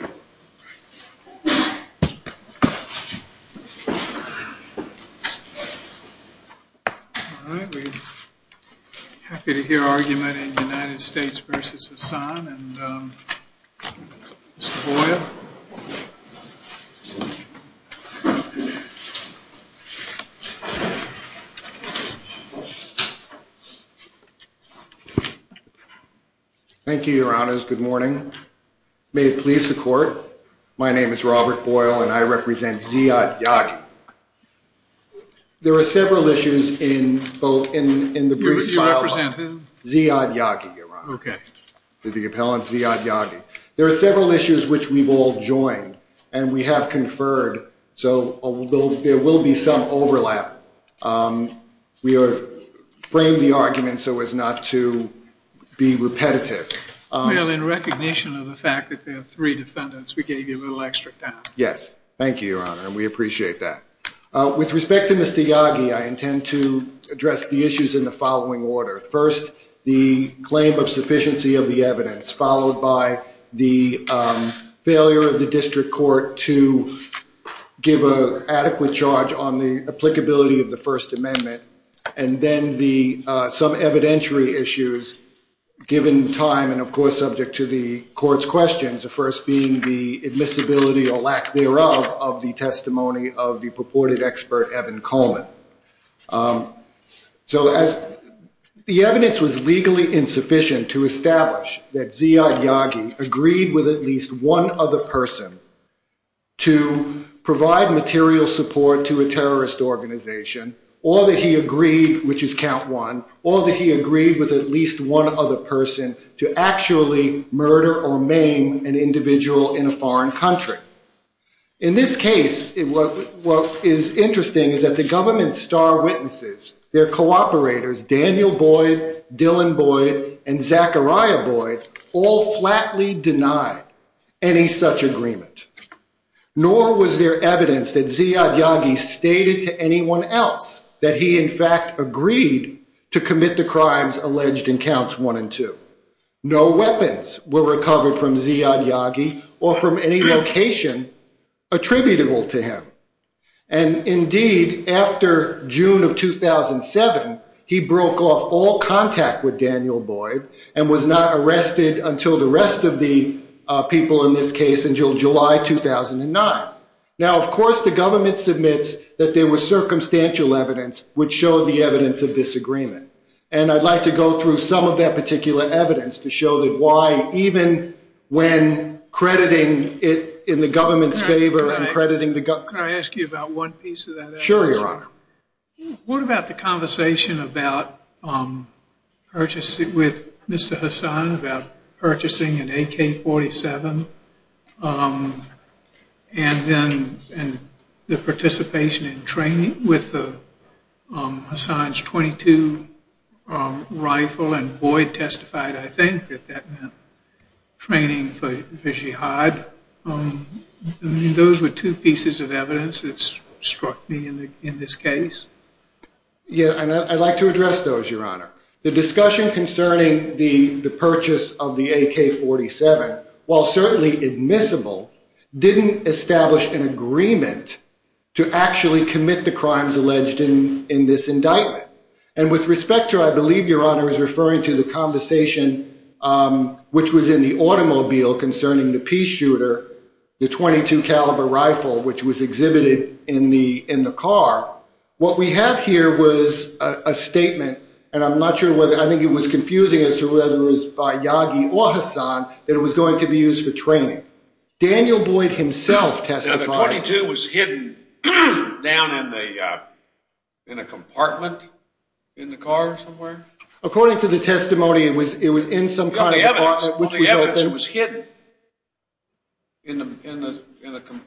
All right, we're happy to hear argument in United States v. Hassan and Mr. Boyle. Thank you, Your Honors. Good morning. May it please the court, my name is Robert Boyle and I represent Ziad Yagi. There are several issues in both in the brief file and in the brief file, Ziad Yagi, Your Honor. Okay. The appellant, Ziad Yagi. There are several issues which we've all joined and we have conferred, so there will be some overlap. We have framed the argument so as not to be repetitive. Well, in recognition of the fact that there are three defendants, we gave you a little extra time. Thank you, Your Honor. We appreciate that. With respect to Mr. Yagi, I intend to address the issues in the following order. First, the claim of sufficiency of the evidence, followed by the failure of the district court to give an adequate charge on the applicability of the First Amendment, and then some evidentiary issues given time and of course subject to the court's questions, the first being the admissibility or lack thereof of the testimony of the purported expert, Evan Coleman. The evidence was legally insufficient to establish that Ziad Yagi agreed with at least one other person to provide material support to a terrorist organization, or that he agreed, which is at least one other person, to actually murder or maim an individual in a foreign country. In this case, what is interesting is that the government's star witnesses, their cooperators, Daniel Boyd, Dylan Boyd, and Zachariah Boyd, all flatly denied any such agreement. Nor was there evidence that Ziad Yagi stated to anyone else that he in fact agreed to commit the crimes alleged in Counts 1 and 2. No weapons were recovered from Ziad Yagi or from any location attributable to him. And indeed, after June of 2007, he broke off all contact with Daniel Boyd and was not arrested until the rest of the people in this case until July 2009. Now of course the government submits that there was circumstantial evidence which showed the evidence of disagreement. And I'd like to go through some of that particular evidence to show that why, even when crediting it in the government's favor and crediting the government... Can I ask you about one piece of that evidence? Sure, you're welcome. What about the conversation about purchasing with Mr. Hassan about purchasing an AK-47 and then the participation in training with Hassan's .22 rifle and Boyd testified, I think, that that meant training for Jihad. Those were two pieces of evidence that struck me in this case. Yeah, and I'd like to address those, Your Honor. The discussion concerning the purchase of the AK-47, while certainly admissible, didn't establish an agreement to actually commit the crimes alleged in this indictment. And with respect to, I believe, Your Honor is referring to the conversation which was in the automobile concerning the peace shooter, the .22 caliber rifle, which was exhibited in the car. What we have here was a statement, and I'm not sure whether... I think it was confusing as to whether it was by Yagi or Hassan, that it was going to be used for training. Daniel Boyd himself testified... Now, the .22 was hidden down in a compartment in the car somewhere? According to the testimony, it was in some kind of box... It was hidden in a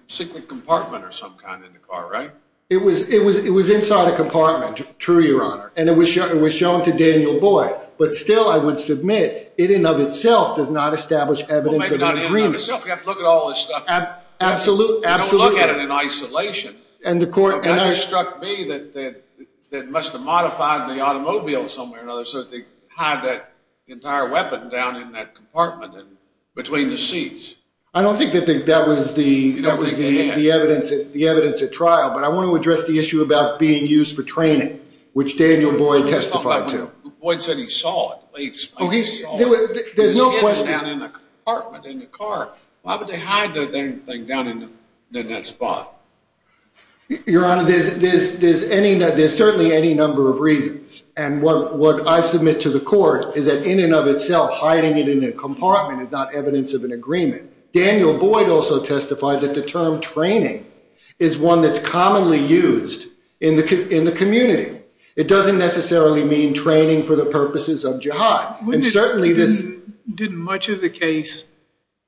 secret compartment or some kind in the car, right? It was inside a compartment, true, Your Honor. And it was shown to Daniel Boyd. But still, I would submit, it in and of itself did not establish evidence of any reason. You have to look at all this stuff. Absolutely. You don't look at it in isolation. It struck me that it must have modified the automobile somewhere or another so that they could fire a weapon down in that compartment between the seats. I don't think that that was the evidence at trial, but I want to address the issue about being used for training, which Daniel Boyd testified to. Boyd said he saw it. Oh, he saw it. There's no question. It was hidden down in the compartment in the car. Why would they hide that thing down in that spot? Your Honor, there's certainly any number of reasons. And what I submit to the court is that in and of itself, hiding it in a compartment is not evidence of an agreement. Daniel Boyd also testified that the term training is one that's commonly used in the community. It doesn't necessarily mean training for the purposes of jihad. Certainly, didn't much of the case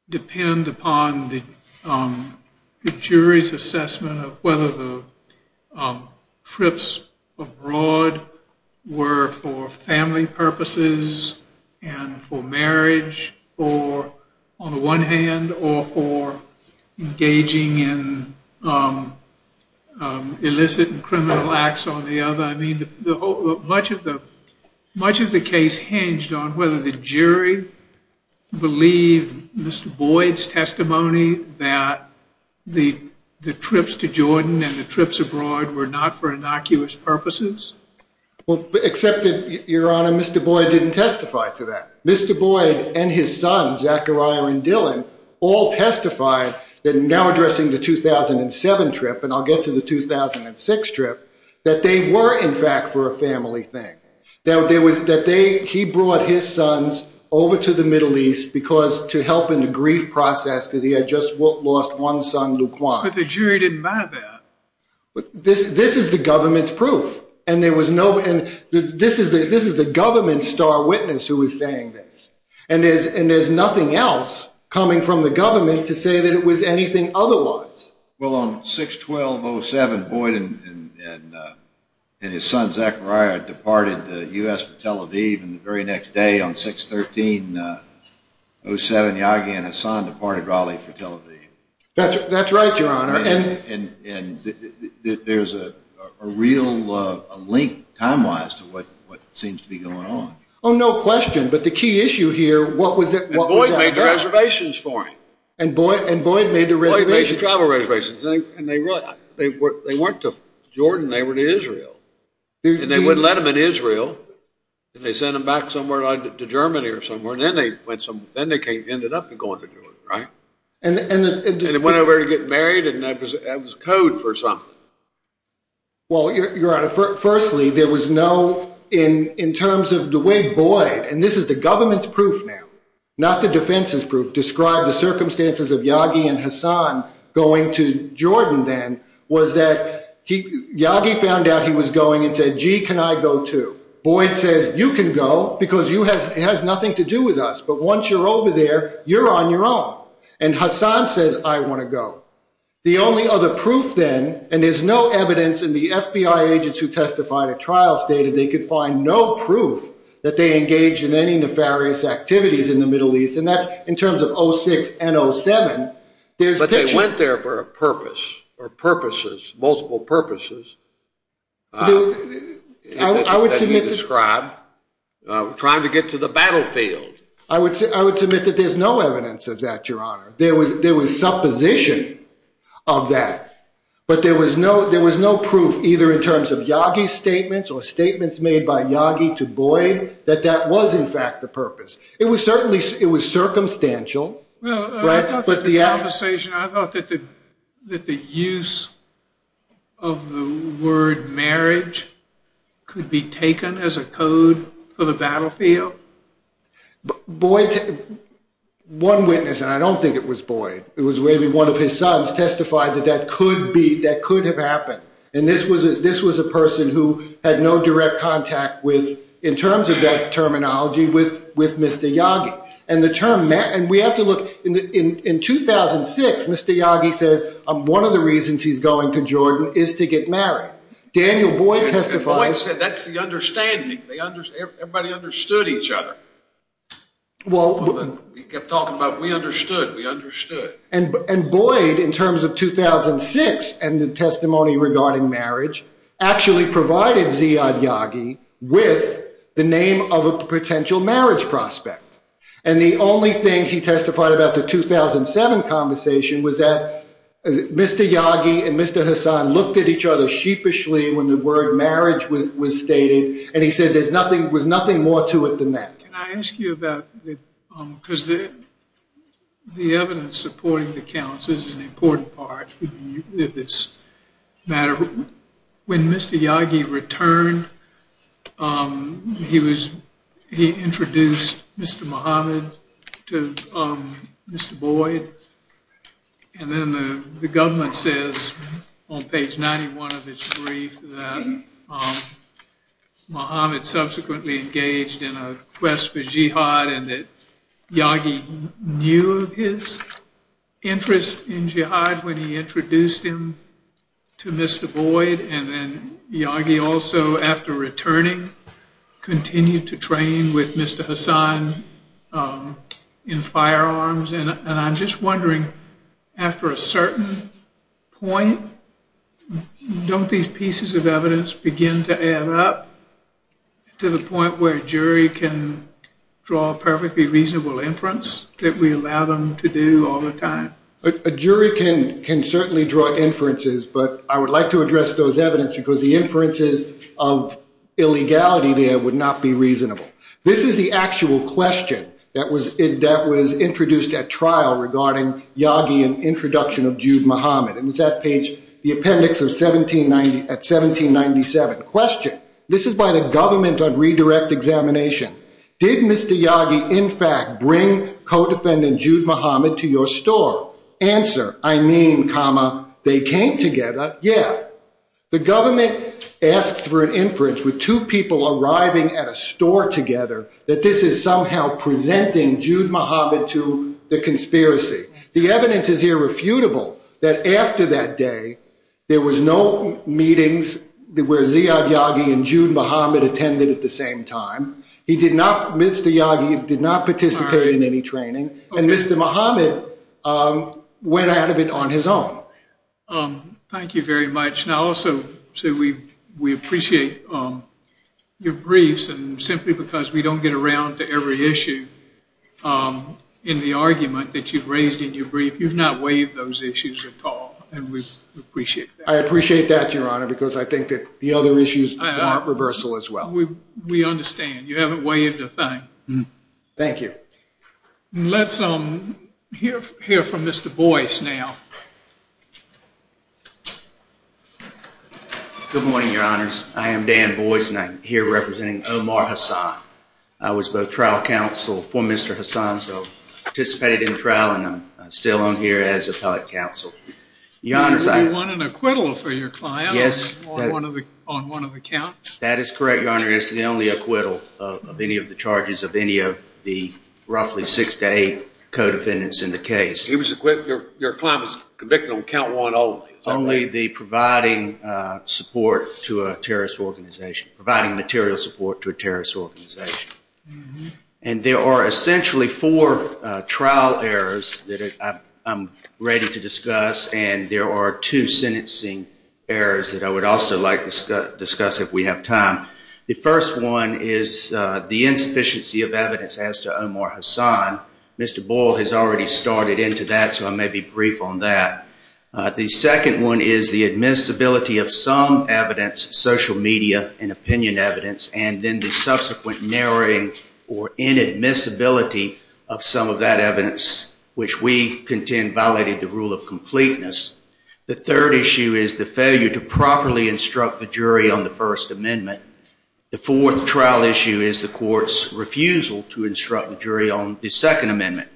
depend upon the jury's assessment of whether the trips abroad were for family purposes and for marriage on the one hand, or for engaging in illicit and criminal acts on the other? Much of the case hinged on whether the jury believed Mr. Boyd's testimony that the trips to Jordan and the trips abroad were not for innocuous purposes. Well, except that, Your Honor, Mr. Boyd didn't testify to that. Mr. Boyd and his son, Zachariah and Dylan, all testified in now addressing the 2007 trip, and I'll get to the 2006 trip, that they were, in fact, for a family thing. That he brought his sons over to the Middle East to help in the grief process because he had just lost one son, Laquan. But the jury didn't buy that. This is the government's proof. And this is the government's star witness who is saying this. And there's nothing else coming from the government to say that it was anything otherwise. Well, on 6-12-07, Boyd and his son, Zachariah, departed the U.S. for Tel Aviv, and the very next day on 6-13-07, Yahya and his son departed Raleigh for Tel Aviv. That's right, Your Honor. And there's a real link, time-wise, to what seems to be going on. Oh, no question. But the key issue here, what was it? And Boyd made the reservations for him. And Boyd made the reservations. Boyd made the travel reservations. And they went to Jordan. They were to Israel. And they wouldn't let them in Israel. And they sent them back somewhere, to Germany or somewhere. And then they ended up going to Jordan, right? And they went over to get married, and that was code for something. Well, Your Honor, firstly, there was no, in terms of the way Boyd, and this is the government's proof now, not the defense's proof, described the circumstances of Yahya and Hassan going to Jordan then, was that Yahya found out he was going and said, gee, can I go too? Boyd says, you can go, because it has nothing to do with us. But once you're over there, you're on your own. And Hassan says, I want to go. The only other proof then, and there's no evidence in the FBI agents who testified at activities in the Middle East, and that's in terms of 06 and 07. But they went there for a purpose, or purposes, multiple purposes, as you described, trying to get to the battlefield. I would submit that there's no evidence of that, Your Honor. There was supposition of that. But there was no proof, either in terms of Yahya's statements or statements made by Yahya to Boyd, that that was, in fact, the purpose. It was certainly, it was circumstantial. Well, I thought that the use of the word marriage could be taken as a code for the battlefield. Boyd, one witness, and I don't think it was Boyd, it was maybe one of his sons, testified that that could be, that could have happened. And this was a person who had no direct contact with, in terms of that terminology, with Mr. Yahya. And the term, and we have to look, in 2006, Mr. Yahya said, one of the reasons he's going to Jordan is to get married. Daniel Boyd testified. Boyd said, that's the understanding. Everybody understood each other. Well. He kept talking about, we understood, we understood. And Boyd, in terms of 2006, and the testimony regarding marriage, actually provided Ziyad Yaghi with the name of a potential marriage prospect. And the only thing he testified about the 2007 conversation was that Mr. Yaghi and Mr. Hassan looked at each other sheepishly when the word marriage was stated, and he said there was nothing more to it than that. Can I ask you about, because the evidence supporting the counts is an important part of this matter. When Mr. Yaghi returned, he introduced Mr. Muhammad to Mr. Boyd, and then the government says on page 91 of this brief that Muhammad subsequently engaged in a quest for jihad and that Yaghi knew of his interest in jihad when he introduced him to Mr. Boyd, and then Yaghi also, after returning, continued to train with Mr. Hassan in firearms. And I'm just wondering, after a certain point, don't these pieces of evidence begin to add up to the point where a jury can draw a perfectly reasonable inference that we allow them to do all the time? A jury can certainly draw inferences, but I would like to address those evidence because the inferences of illegality there would not be reasonable. This is the actual question that was introduced at trial regarding Yaghi's introduction of Jude Muhammad. It was at page, the appendix of 1797. Question. This is by the government on redirect examination. Did Mr. Yaghi in fact bring co-defendant Jude Muhammad to your store? Answer, I mean, they came together, yeah. The government asked for an inference with two people arriving at a store together that this is somehow presenting Jude Muhammad to the conspiracy. The evidence is irrefutable that after that day, there was no meetings where Ziyad Yaghi and Jude Muhammad attended at the same time. Mr. Yaghi did not participate in any training, and Mr. Muhammad went out of it on his own. Thank you very much. Now, also, we appreciate your briefs, and simply because we don't get around to every issue in the argument that you've raised in your brief, you've not waived those issues at all, and we appreciate that. I appreciate that, Your Honor, because I think that the other issues aren't reversal as well. We understand. You haven't waived a thing. Thank you. Let's hear from Mr. Boyce now. Good morning, Your Honors. I am Dan Boyce, and I'm here representing Omar Hassan. I was both trial counsel for Mr. Hassan, so I participated in the trial, and I'm still on here as appellate counsel. Your Honors, I— You want an acquittal for your client on one of the counts? That is correct, Your Honor. That is the only acquittal of any of the charges of any of the roughly six to eight co-defendants in the case. He was acquitted—your client was convicted on count one of all of these? Only the providing support to a terrorist organization, providing material support to a terrorist organization. And there are essentially four trial errors that I'm ready to discuss, and there are two sentencing errors that I would also like to discuss if we have time. The first one is the insufficiency of evidence as to Omar Hassan. Mr. Boyle has already started into that, so I may be brief on that. The second one is the admissibility of some evidence, social media and opinion evidence, and then the subsequent narrowing or inadmissibility of some of that evidence, which we contend violated the rule of completeness. The third issue is the failure to properly instruct the jury on the First Amendment. The fourth trial issue is the court's refusal to instruct the jury on the Second Amendment.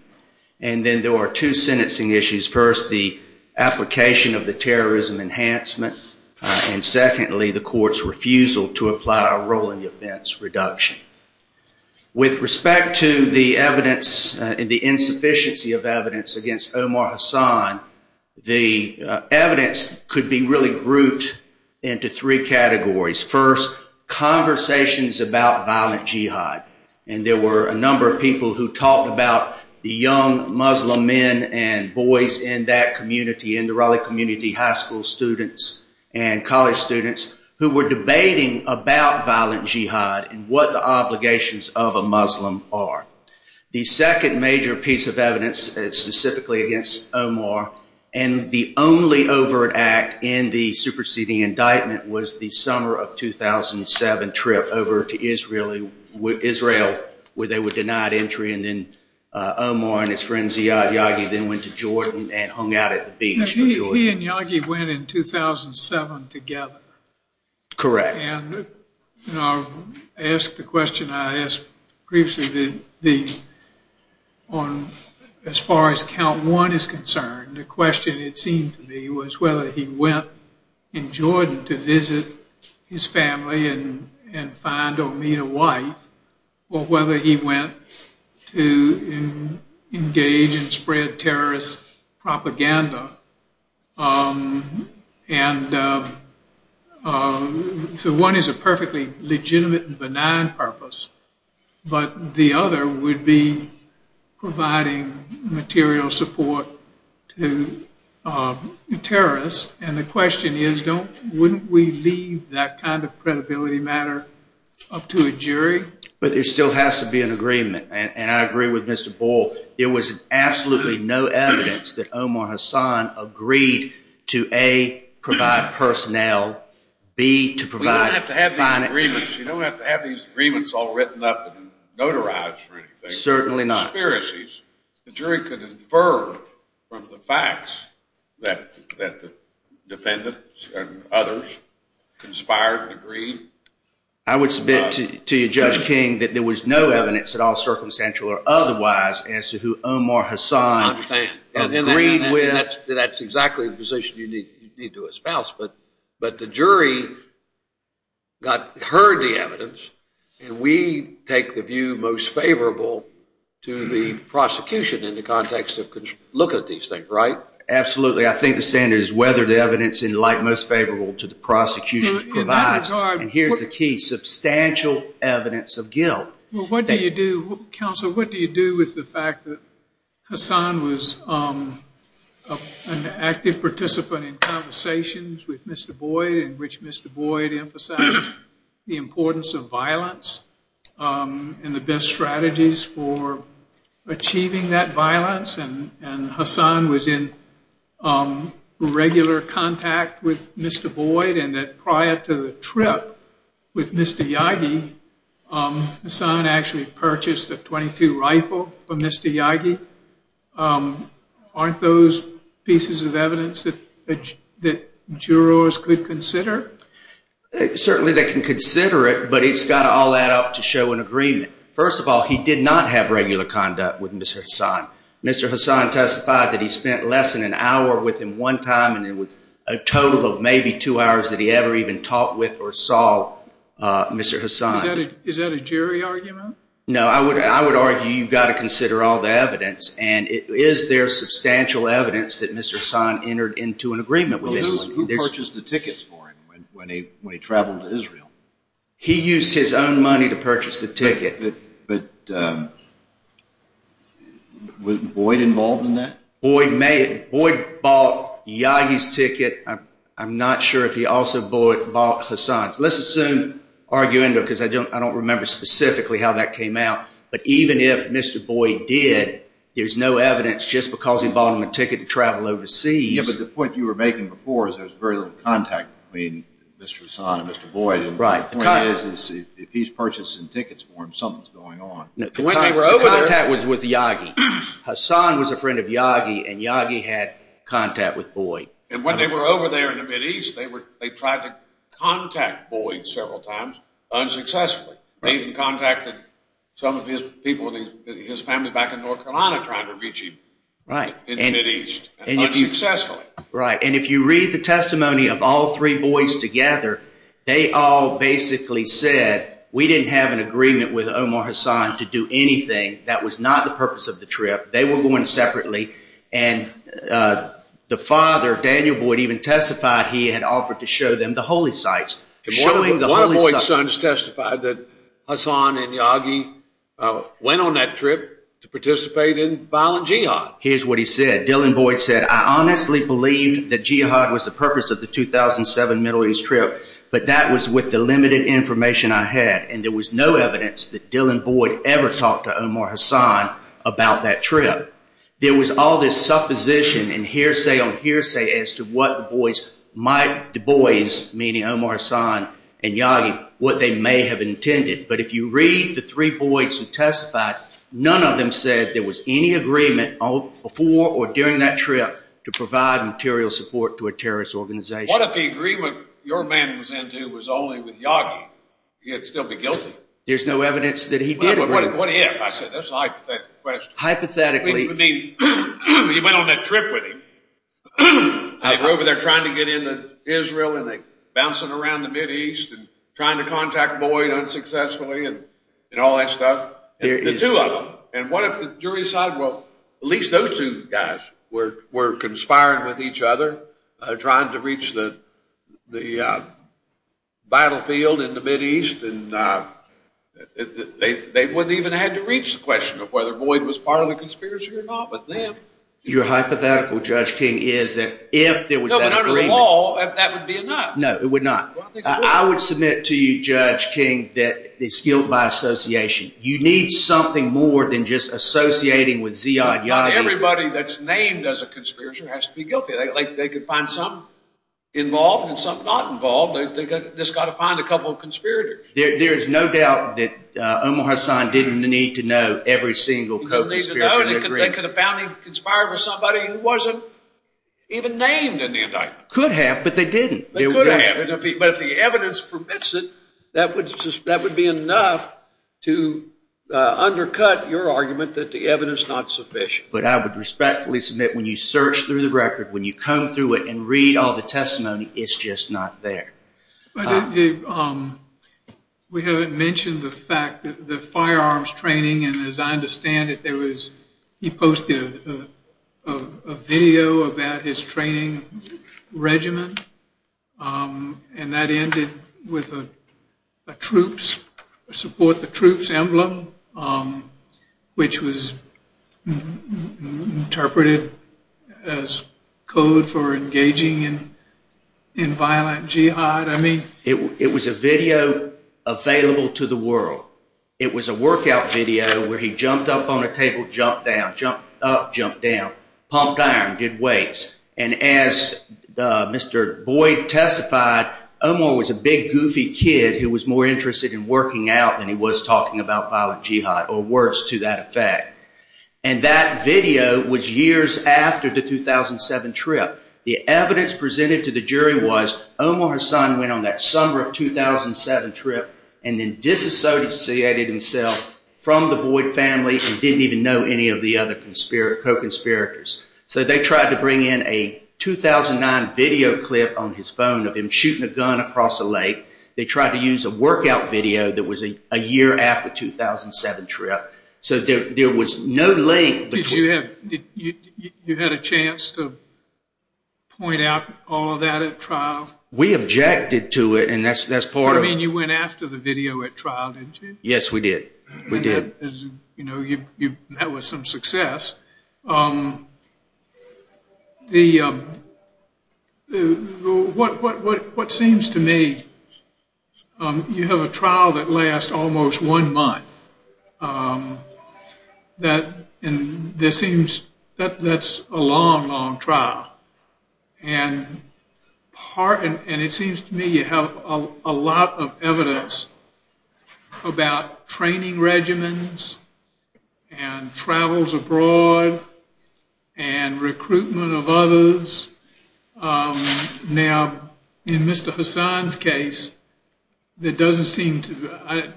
And then there are two sentencing issues. First, the application of the terrorism enhancement, and secondly, the court's refusal to apply a rolling defense reduction. With respect to the evidence and the insufficiency of evidence against Omar Hassan, the evidence could be really grouped into three categories. First, conversations about violent jihad, and there were a number of people who talked about the young Muslim men and boys in that community, in the Raleigh community, high school students and college students, who were debating about violent jihad and what the obligations of a Muslim are. The second major piece of evidence is specifically against Omar, and the only overt act in the superseding indictment was the summer of 2007 trip over to Israel, where they were denied entry, and then Omar and his friend Ziad Yagi then went to Jordan and hung out at the beach. He and Yagi went in 2007 together. Correct. And I asked the question I asked previously, as far as count one is concerned, the question it seemed to me was whether he went in Jordan to visit his family and find Omir White, or whether he went to engage in spread terrorist propaganda, and so one is a perfectly legitimate and benign purpose, but the other would be providing material support to terrorists, and the question is wouldn't we leave that kind of credibility matter up to a jury? But there still has to be an agreement, and I agree with Mr. Boyle. It was absolutely no evidence that Omar Hassan agreed to A, provide personnel, B, to provide You don't have to have these agreements all written up and notarized for anything. Certainly not. Conspiracies. The jury could infer from the facts that the defendants and others conspired and agreed. I would submit to you, Judge King, that there was no evidence at all circumstantial or otherwise as to who Omar Hassan agreed with. That's exactly the position you need to espouse, but the jury heard the evidence, and we take the view most favorable to the prosecution in the context of looking at these things, right? Absolutely. I think the standard is whether the evidence is like most favorable to the prosecution provides, and here's the key, substantial evidence of guilt. Well, what do you do, Counselor, what do you do with the fact that Hassan was an active participant in conversations with Mr. Boyle in which Mr. Boyle emphasized the importance of violence and the best strategies for achieving that violence, and Hassan was in regular contact with Mr. Boyle, and that prior to the trip with Mr. Yagi, Hassan actually purchased a .22 rifle from Mr. Yagi? Aren't those pieces of evidence that jurors could consider? Certainly they can consider it, but it's got all that out to show an agreement. First of all, he did not have regular conduct with Mr. Hassan. Mr. Hassan testified that he spent less than an hour with him one time, and it was a total of maybe two hours that he ever even talked with or saw Mr. Hassan. Is that a jury argument? No, I would argue you've got to consider all the evidence, and is there substantial evidence that Mr. Hassan entered into an agreement with him? Who purchased the tickets for him when he traveled to Israel? He used his own money to purchase the ticket. But was Boyd involved in that? Boyd bought Yagi's ticket. I'm not sure if he also bought Hassan's. Let's assume, arguing, because I don't remember specifically how that came out, but even if Mr. Boyd did, there's no evidence just because he bought him a ticket to travel overseas. The point you were making before is there's very little contact between Mr. Hassan and Mr. Boyd. The point is if he's purchasing tickets for him, something's going on. The contact was with Yagi. Hassan was a friend of Yagi, and Yagi had contact with Boyd. And when they were over there in the Mideast, they tried to contact Boyd several times unsuccessfully. They even contacted some of his people, his family back in North Carolina trying to reach him in the Mideast. And if you read the testimony of all three boys together, they all basically said, we didn't have an agreement with Omar Hassan to do anything. That was not the purpose of the trip. They were going separately, and the father, Daniel Boyd, even testified he had offered to show them the holy sites. One of Boyd's sons testified that Hassan and Yagi went on that trip to participate in violent jihad. Here's what he said. Dylan Boyd said, I honestly believe that jihad was the purpose of the 2007 Middle East trip, but that was with the limited information I had. And there was no evidence that Dylan Boyd ever talked to Omar Hassan about that trip. There was all this supposition and hearsay on hearsay as to what the boys, meaning Omar Hassan and Yagi, what they may have intended. But if you read the three boys who testified, none of them said there was any agreement before or during that trip to provide material support to a terrorist organization. What if the agreement your man was in to was only with Yagi? He would still be guilty. There's no evidence that he did agree. What if? I said that's a hypothetical question. Hypothetically. He went on that trip with him. They were over there trying to get into Israel, and they were bouncing around the Mideast and trying to contact Boyd unsuccessfully and all that stuff. The two of them. And what if the jury decided, well, at least those two guys were conspiring with each other, trying to reach the battlefield in the Mideast, and they wouldn't even have had to reach the question of whether Boyd was part of the conspiracy or not. Your hypothetical, Judge King, is if there was that agreement. No, but under the law, that would be enough. No, it would not. I would submit to you, Judge King, that it's guilt by association. You need something more than just associating with Ziad Yagi. Everybody that's named as a conspirator has to be guilty. They can find some involved and some not involved. They've just got to find a couple of conspirators. There is no doubt that Omar Hassan didn't need to know every single conspiracy agreement. They could have found him conspiring with somebody who wasn't even named in the indictment. Could have, but they didn't. They could have, but if the evidence permits it, that would be enough to undercut your argument that the evidence is not sufficient. But I would respectfully submit when you search through the record, when you come through it and read all the testimony, it's just not there. We haven't mentioned the fact that the firearms training, and as I understand it, he posted a video about his training regiment, and that ended with a support the troops emblem, which was interpreted as code for engaging in violent jihad. It was a video available to the world. It was a workout video where he jumped up on a table, jumped down, jumped up, jumped down, pumped iron, did weights, and as Mr. Boyd testified, Omar was a big, goofy kid who was more interested in working out than he was talking about violent jihad, or worse to that effect. And that video was years after the 2007 trip. The evidence presented to the jury was Omar Hassan went on that summer of 2007 trip and then disassociated himself from the Boyd family and didn't even know any of the other co-conspirators. So they tried to bring in a 2009 video clip on his phone of him shooting a gun across a lake. They tried to use a workout video that was a year after the 2007 trip. So there was no link. Did you have a chance to point out all of that at trial? We objected to it, and that's part of it. You went after the video at trial, didn't you? Yes, we did. We did. You know, you met with some success. What seems to me, you have a trial that lasts almost one month. That's a long, long trial. And it seems to me you have a lot of evidence about training regimens and travels abroad and recruitment of others. Now, in Mr. Hassan's case, it doesn't seem to...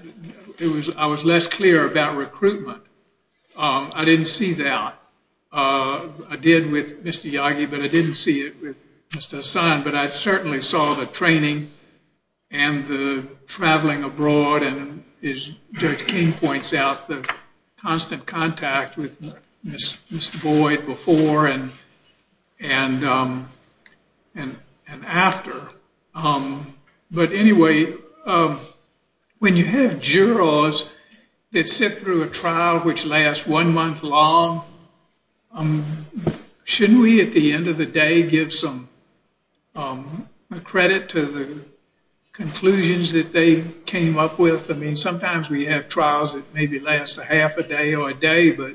I was less clear about recruitment. I didn't see that. I did with Mr. Yagi, but I didn't see it with Mr. Hassan. But I certainly saw the training and the traveling abroad, and as Judge King points out, the constant contact with Mr. Boyd before and after. But anyway, when you have jurors that sit through a trial which lasts one month long, shouldn't we at the end of the day give some credit to the conclusions that they came up with? I mean, sometimes we have trials that maybe last a half a day or a day, but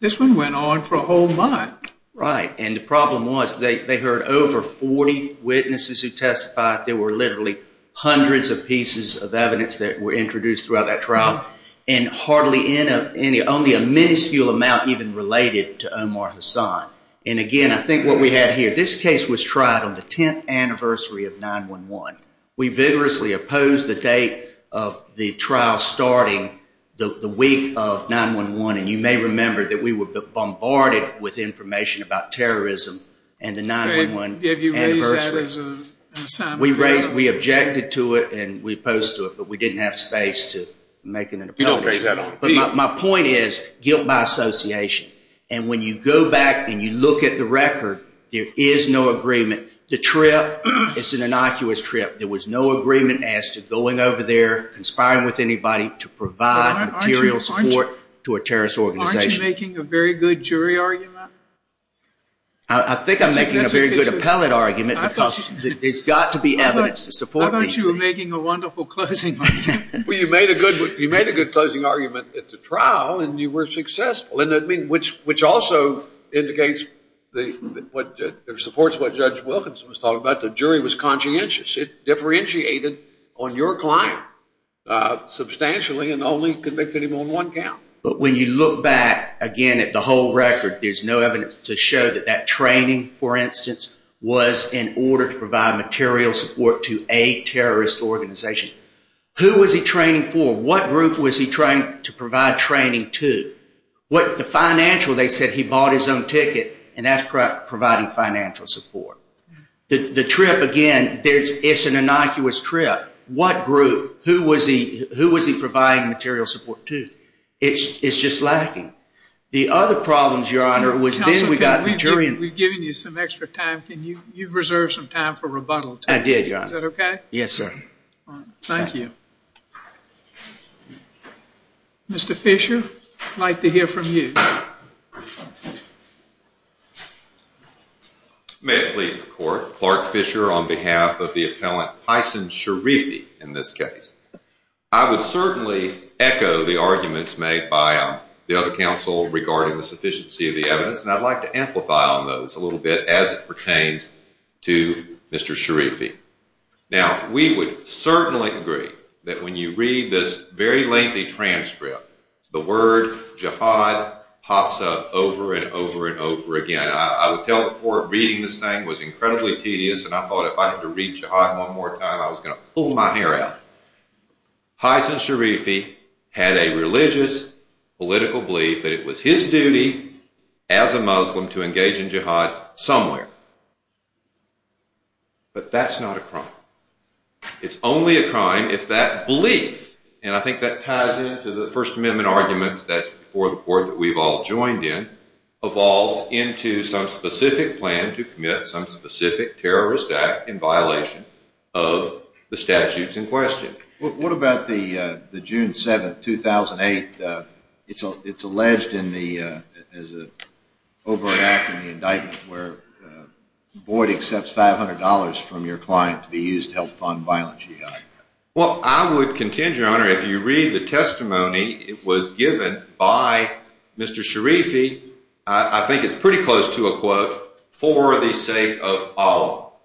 this one went on for a whole month. Right, and the problem was they heard over 40 witnesses who testified. There were literally hundreds of pieces of evidence that were introduced throughout that trial and only a miniscule amount even related to Omar Hassan. And again, I think what we have here, this case was tried on the 10th anniversary of 9-1-1. We vigorously opposed the date of the trial starting the week of 9-1-1, and you may remember that we were bombarded with information about terrorism and the 9-1-1 anniversary. We objected to it and we opposed to it, but we didn't have space to make an appeal. But my point is guilt by association. And when you go back and you look at the record, there is no agreement. The trip is an innocuous trip. There was no agreement as to going over there, conspiring with anybody, to provide material support to a terrorist organization. Aren't you making a very good jury argument? I think I'm making a very good appellate argument because there's got to be evidence to support me. How about you making a wonderful closing argument? Well, you made a good closing argument at the trial and you were successful, which also indicates and supports what Judge Wilkins was talking about, that jury was conscientious. It differentiated on your client substantially and only convicted him on one count. But when you look back again at the whole record, there's no evidence to show that that training, for instance, was in order to provide material support to a terrorist organization. Who was he trained for? What group was he trained to provide training to? The financial, they said he bought his own ticket, and that's providing financial support. The trip, again, it's an innocuous trip. What group, who was he providing material support to? It's just lacking. The other problem, Your Honor, was then we got the jury... We've given you some extra time. You've reserved some time for rebuttal. I did, Your Honor. Is that okay? Yes, sir. Thank you. Mr. Fisher, I'd like to hear from you. Your Honor, may it please the Court, Clark Fisher on behalf of the appellant, Tyson Sharifi, in this case. I would certainly echo the arguments made by the other counsel regarding the sufficiency of the evidence, and I'd like to amplify on those a little bit as it pertains to Mr. Sharifi. Now, we would certainly agree that when you read this very lengthy transcript, the word jihad pops up over and over and over again. I would tell the Court reading this thing was incredibly tedious, and I thought if I had to read jihad one more time, I was going to pull my hair out. Tyson Sharifi had a religious, political belief that it was his duty as a Muslim to engage in jihad somewhere. But that's not a crime. It's only a crime if that belief, and I think that ties into the First Amendment argument that's before the Court that we've all joined in, evolved into some specific plan to commit some specific terrorist act in violation of the statutes in question. What about the June 7th, 2008? It's alleged as an overreacting indictment where Boyd accepts $500 from your client to be used to help fund violent jihad. Well, I would contend, Your Honor, if you read the testimony, it was given by Mr. Sharifi, I think it's pretty close to a quote, for the sake of all,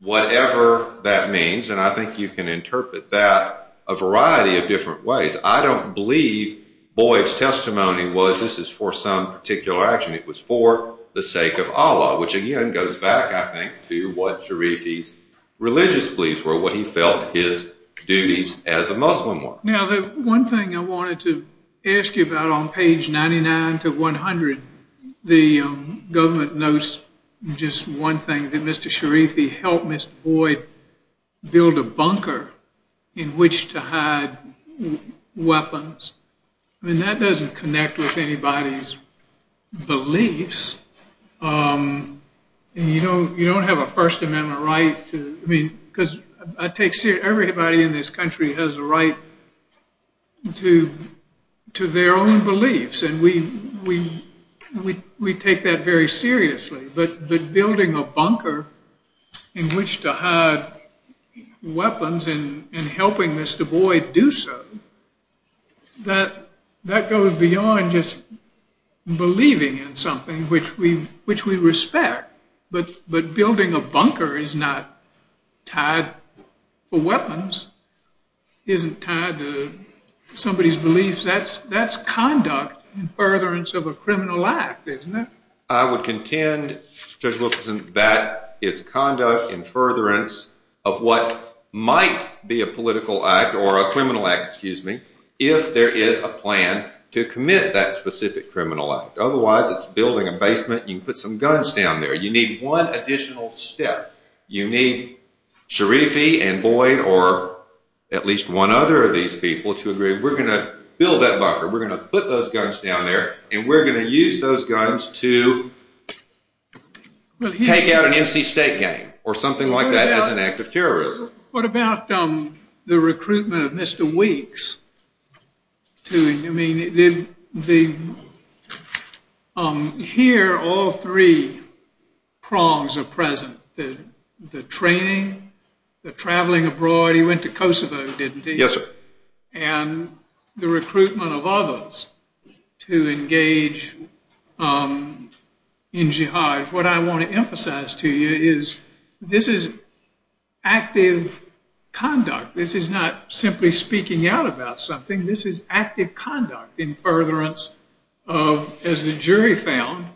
whatever that means, and I think you can interpret that a variety of different ways. I don't believe Boyd's testimony was, this is for some particular action. It was for the sake of Allah, which again goes back, I think, to what Sharifi's religious beliefs were, what he felt his duties as a Muslim were. Now, the one thing I wanted to ask you about on page 99 to 100, the government notes just one thing, that Mr. Sharifi helped Mr. Boyd build a bunker in which to hide weapons. I mean, that doesn't connect with anybody's beliefs. You don't have a First Amendment right to, I mean, because everybody in this country has a right to their own beliefs, and we take that very seriously. But building a bunker in which to hide weapons and helping Mr. Boyd do so, that goes beyond just believing in something, which we respect. But building a bunker is not tied to weapons, isn't tied to somebody's beliefs. That's conduct in furtherance of a criminal act, isn't it? I would contend that it's conduct in furtherance of what might be a political act or a criminal act, excuse me, if there is a plan to commit that specific criminal act. Otherwise, it's building a basement and you put some guns down there. You need one additional step. You need Sharifi and Boyd or at least one other of these people to agree, we're going to build that bunker, we're going to put those guns down there, and we're going to use those guns to take out an NC State gang or something like that as an act of terrorism. What about the recruitment of Mr. Weeks? I mean, here all three prongs are present, the training, the traveling abroad. He went to Kosovo, didn't he? Yes, sir. And the recruitment of others to engage in jihad. What I want to emphasize to you is this is active conduct. This is not simply speaking out about something. This is active conduct in furtherance of, as the jury found,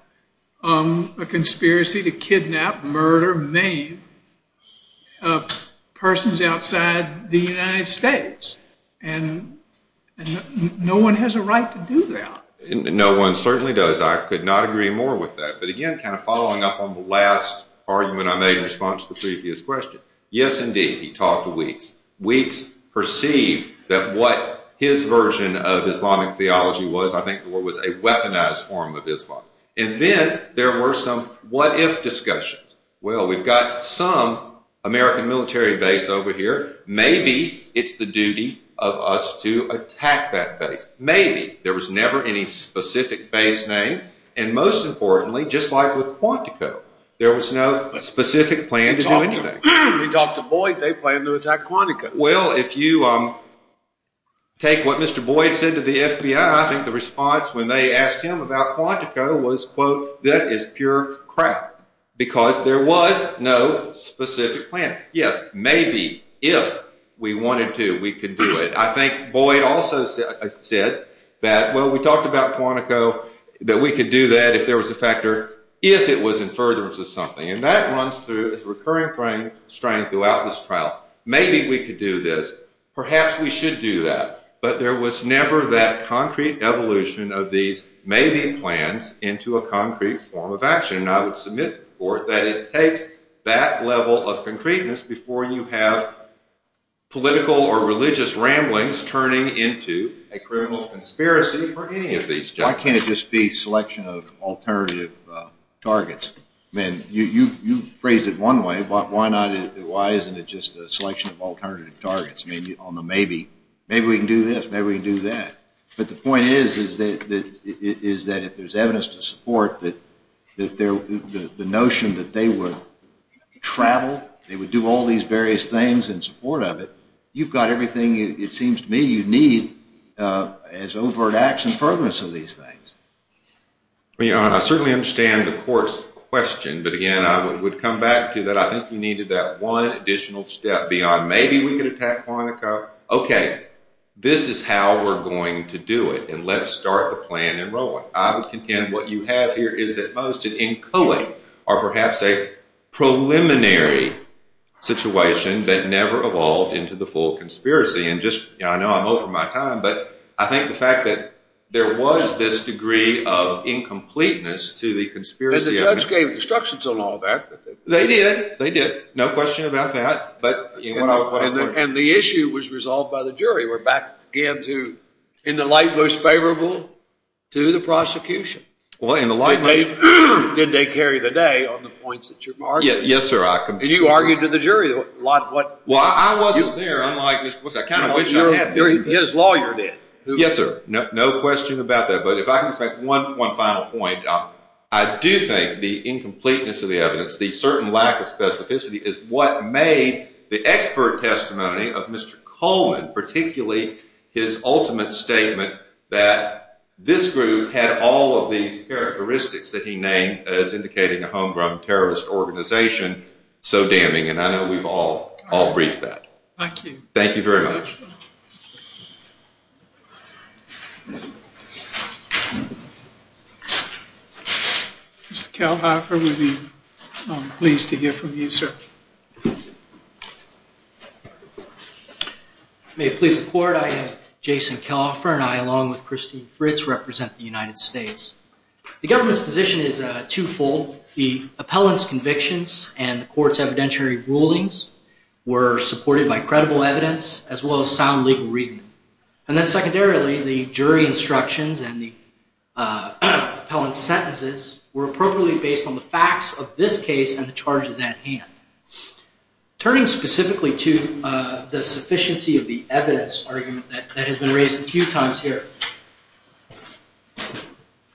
a conspiracy to kidnap, murder, persons outside the United States. And no one has a right to do that. No one certainly does. I could not agree more with that. But again, kind of following up on the last argument I made in response to the previous question. Yes, indeed, he talked to Weeks. Weeks perceived that what his version of Islamic theology was, I think, was a weaponized form of Islam. And then there were some what-if discussions. Well, we've got some American military base over here. Maybe it's the duty of us to attack that base. Maybe. There was never any specific base name. And most importantly, just like with Quantico, there was no specific plan to do anything. He talked to Boyd. They planned to attack Quantico. Well, if you take what Mr. Boyd said to the FBI, I think the response when they asked him about Quantico was, quote, that is pure crap because there was no specific plan. Yes, maybe if we wanted to, we could do it. I think Boyd also said that, well, we talked about Quantico, that we could do that if there was a factor, if it was in furtherance of something. And that runs through a recurring frame throughout this trial. Maybe we could do this. Perhaps we should do that. But there was never that concrete evolution of these maybe plans into a concrete form of action. And I would submit to the court that it takes that level of concreteness before you have political or religious ramblings turning into a criminal conspiracy for any of these judges. Why can't it just be a selection of alternative targets? I mean, you phrased it one way. Why isn't it just a selection of alternative targets on the maybe? Maybe we can do this. Maybe we can do that. But the point is that if there's evidence to support that the notion that they would travel, they would do all these various things in support of it, you've got everything, it seems to me, you need as overt acts in furtherance of these things. I certainly understand the court's question. But again, I would come back to that. I think we needed that one additional step beyond maybe we could attack Quantico. Okay. This is how we're going to do it. And let's start the plan and roll it. I would contend what you have here is at most an inculate or perhaps a preliminary situation that never evolved into the full conspiracy. And just, you know, I know I'm over my time, but I think the fact that there was this degree of incompleteness to the conspiracy. But the judge gave instructions on all that. They did. They did. No question about that. And the issue was resolved by the jury. We're back again to in the light most favorable to the prosecution. Well, in the light most favorable. It made good day carry today on the points that you've argued. Yes, sir. And you argued to the jury. Well, I wasn't there. I'm like, was I kind of? His lawyer did. Yes, sir. No question about that. But if I can make one final point, I do think the incompleteness of the evidence, the certain lack of specificity is what made the expert testimony of Mr. Coleman, particularly his ultimate statement that this group had all of these characteristics that he named as indicating a homegrown terrorist organization, so damning. And I know we've all briefed that. Thank you. Thank you very much. Mr. Kelhoffer, we'd be pleased to hear from you, sir. May it please the court. I am Jason Kelhoffer, and I, along with Christine Fritz, represent the United States. The government's position is twofold. The appellant's convictions and the court's evidentiary rulings were supported by credible evidence, as well as the court's evidence. And then secondarily, the jury instructions and the appellant's sentences were appropriately based on the facts of this case and the charge at hand. Turning specifically to the sufficiency of the evidence argument that has been raised a few times here,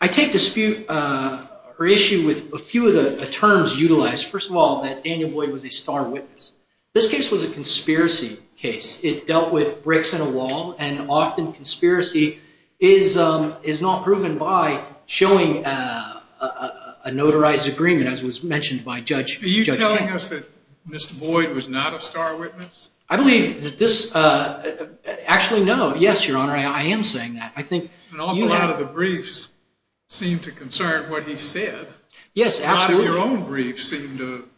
I take dispute or issue with a few of the terms utilized. First of all, that Daniel Boyd was a star witness. This case was a conspiracy case. It dealt with bricks and a wall, and often conspiracy is not proven by showing a notarized agreement, as was mentioned by Judge Kennedy. Are you telling us that Mr. Boyd was not a star witness? Actually, no. Yes, Your Honor, I am saying that. But also, a lot of the briefs seem to concern what he said. Yes, absolutely. A lot of your own briefs seem to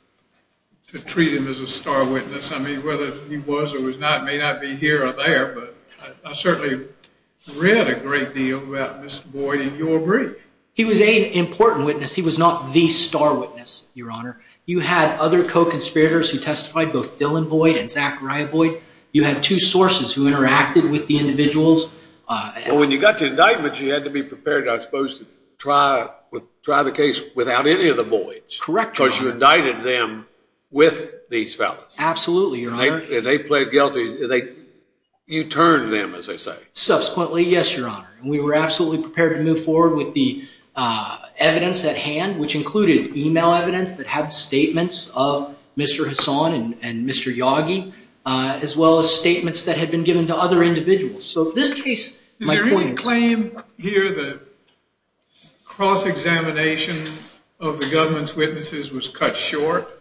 treat him as a star witness. I mean, whether he was or was not may not be here or there, but I certainly read a great deal about Mr. Boyd in your brief. He was an important witness. He was not the star witness, Your Honor. You had other co-conspirators who testified, both Dylan Boyd and Zachariah Boyd. You had two sources who interacted with the individuals. Well, when you got the indictment, you had to be prepared, I suppose, to try the case without any of the Boyds. Correct. Because you indicted them with these fellows. Absolutely, Your Honor. They played guilty. You turned them, as I say. Subsequently, yes, Your Honor. And we were absolutely prepared to move forward with the evidence at hand, which included email evidence that had statements of Mr. Hassan and Mr. Yagi, as well as statements that had been given to other individuals. So this case, my point is— Is there any claim here that cross-examination of the government's witnesses was cut short?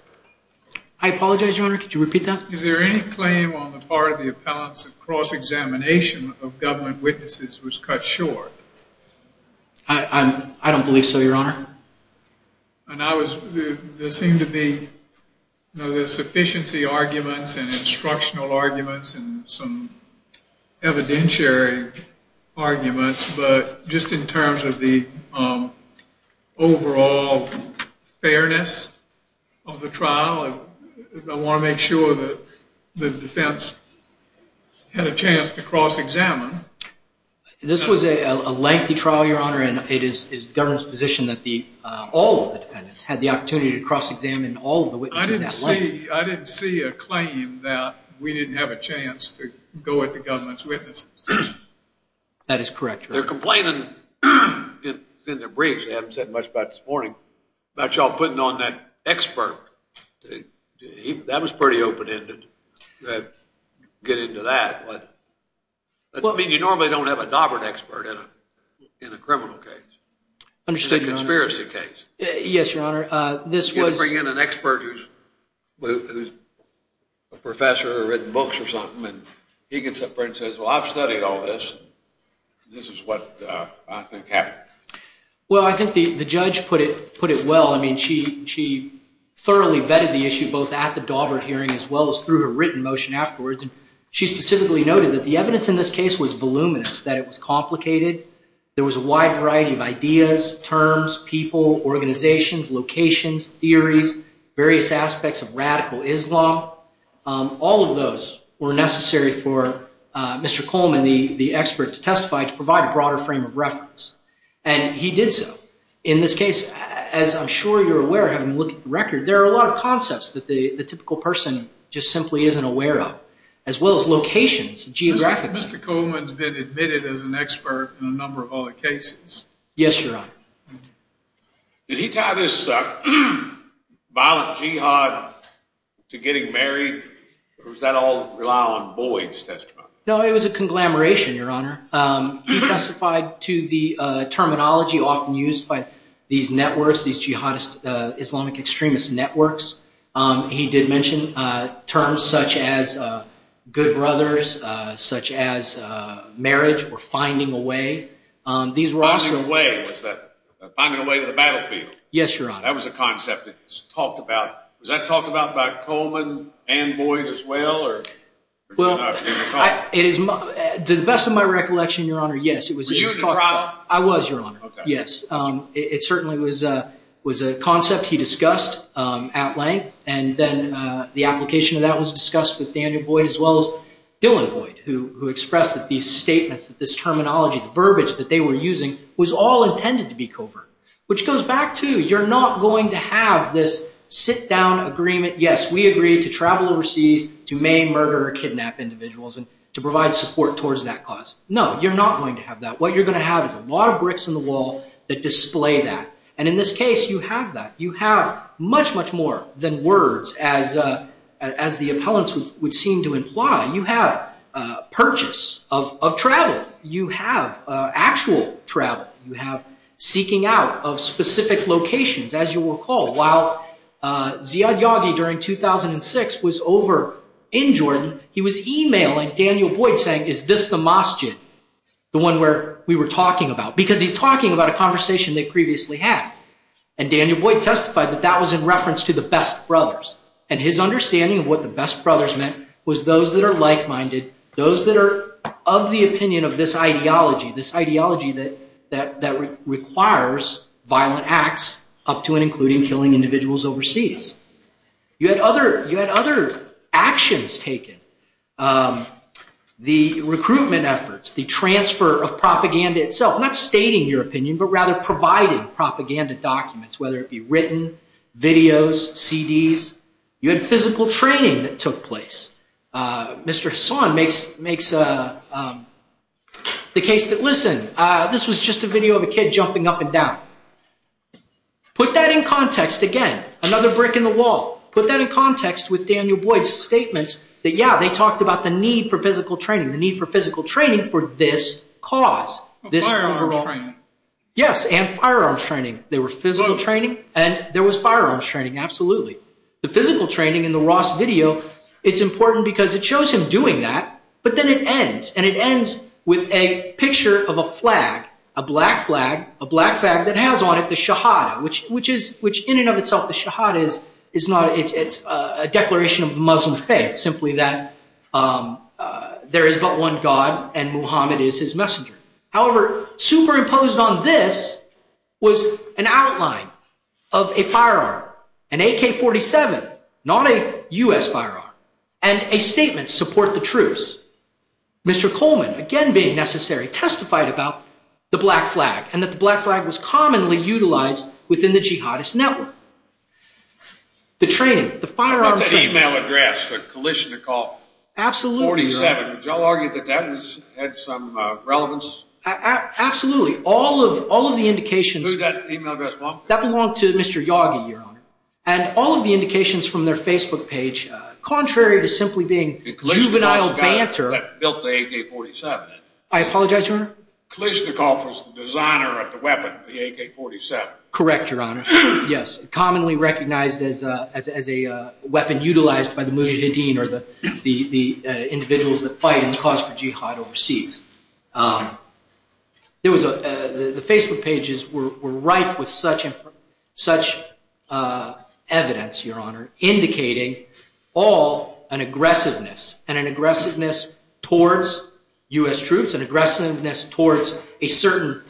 I apologize, Your Honor. Could you repeat that? Is there any claim on the part of the appellants that cross-examination of government witnesses was cut short? I don't believe so, Your Honor. There seemed to be sufficiency arguments and instructional arguments and some evidentiary arguments, but just in terms of the overall fairness of the trial, I want to make sure that the defense had a chance to cross-examine. This was a lengthy trial, Your Honor, and it is the government's position that all of the defendants had the opportunity to cross-examine all of the witnesses. I didn't see a claim that we didn't have a chance to go at the government's witnesses. That is correct, Your Honor. They're complaining in their briefs—they haven't said much about it this morning— about y'all putting on that expert. That was pretty open-ended to get into that. I mean, you normally don't have a Daubert expert in a criminal case. Understood, Your Honor. In a conspiracy case. Yes, Your Honor. You can't bring in an expert who's a professor who's written books or something, and he gets up there and says, well, I've studied all this, and this is what I think happened. Well, I think the judge put it well. I mean, she thoroughly vetted the issue both at the Daubert hearing as well as through a written motion afterwards, and she specifically noted that the evidence in this case was voluminous, that it was complicated. There was a wide variety of ideas, terms, people, organizations, locations, theories, various aspects of radical Islam. All of those were necessary for Mr. Coleman, the expert to testify, to provide a broader frame of reference, and he did so. In this case, as I'm sure you're aware, having looked at the record, there are a lot of concepts that the typical person just simply isn't aware of, as well as locations, geographies. Mr. Coleman's been admitted as an expert in a number of other cases. Yes, Your Honor. Did he tie this violent jihad to getting married, or was that all rely on boys to testify? No, it was a conglomeration, Your Honor. He testified to the terminology often used by these networks, these jihadist Islamic extremist networks. He did mention terms such as good brothers, such as marriage, or finding a way. Finding a way. Finding a way to the battlefield. Yes, Your Honor. That was a concept that was talked about. Was that talked about by Coleman and boys as well? To the best of my recollection, Your Honor, yes. I was, Your Honor, yes. It certainly was a concept he discussed at length, and then the application of that was discussed with Daniel Boyd, as well as Dylan Boyd, who expressed that these statements, this terminology, the verbiage that they were using, was all intended to be covert. Which goes back to, you're not going to have this sit-down agreement. Yes, we agree to travel overseas to maim, murder, or kidnap individuals and to provide support towards that cause. No, you're not going to have that. What you're going to have is a lot of bricks on the wall that display that. And in this case, you have that. You have much, much more than words, as the appellants would seem to imply. You have purchase of travel. You have actual travel. You have seeking out of specific locations, as you recall. While Ziad Yagi, during 2006, was over in Jordan, he was emailing Daniel Boyd saying, is this the mosque, the one where we were talking about? Because he's talking about a conversation they previously had. And Daniel Boyd testified that that was in reference to the Best Brothers. And his understanding of what the Best Brothers meant was those that are like-minded, those that are of the opinion of this ideology, this ideology that requires violent acts, up to and including killing individuals overseas. You had other actions taken. The recruitment efforts, the transfer of propaganda itself, not stating your opinion, but rather providing propaganda documents, whether it be written, videos, CDs. You had physical training that took place. Mr. Son makes the case that, listen, this was just a video of a kid jumping up and down. Put that in context again. Another brick in the wall. Put that in context with Daniel Boyd's statements that, yeah, they talked about the need for physical training, the need for physical training for this cause. Firearm training. Yes, and firearm training. There was physical training and there was firearm training, absolutely. The physical training in the Ross video, it's important because it shows him doing that, but then it ends, and it ends with a picture of a flag, a black flag, a black flag that has on it the Shahada, which in and of itself, the Shahada is not a declaration of Muslim faith, simply that there is but one God and Muhammad is his messenger. However, superimposed on this was an outline of a firearm, an AK-47, not a U.S. firearm, and a statement to support the truce. Mr. Coleman, again being necessary, testified about the black flag and that the black flag was commonly utilized within the jihadist network. The training, the firearm training. That email address, the Kalashnikov-47, does that argue that that has had some relevance? Absolutely. All of the indications— Who got the email address from? That belonged to Mr. Yagi, Your Honor. And all of the indications from their Facebook page, contrary to simply being juvenile banter— The Kalashnikov that built the AK-47. I apologize, Your Honor? Kalashnikov was the designer of the weapon, the AK-47. Correct, Your Honor. Yes, commonly recognized as a weapon utilized by the mujahideen or the individuals that fight and cause the jihad overseas. The Facebook pages were rife with such evidence, Your Honor, indicating all an aggressiveness, and an aggressiveness towards U.S. troops, an aggressiveness towards a certain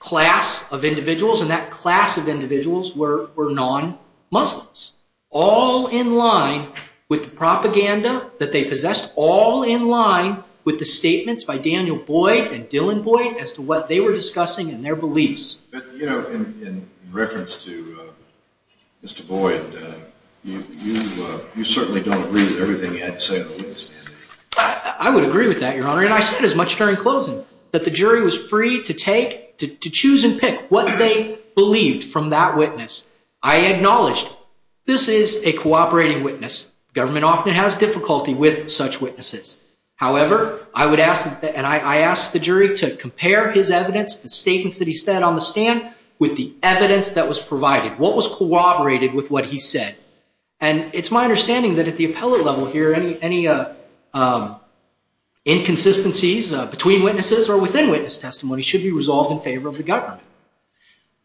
class of individuals, and that class of individuals were non-Muslims, all in line with the propaganda that they possessed, all in line with the statements by Daniel Boyd and Dylan Boyd as to what they were discussing and their beliefs. You know, in reference to Mr. Boyd, you certainly don't agree with everything he had to say. I would agree with that, Your Honor, and I said as much during closing that the jury was free to take, to choose and pick what they believed from that witness. I acknowledged this is a cooperating witness. Government often has difficulty with such witnesses. However, I would ask, and I asked the jury to compare his evidence, the statements that he said on the stand, with the evidence that was provided. What was cooperated with what he said? And it's my understanding that at the appellate level here, any inconsistencies between witnesses or within witness testimony should be resolved in favor of the government.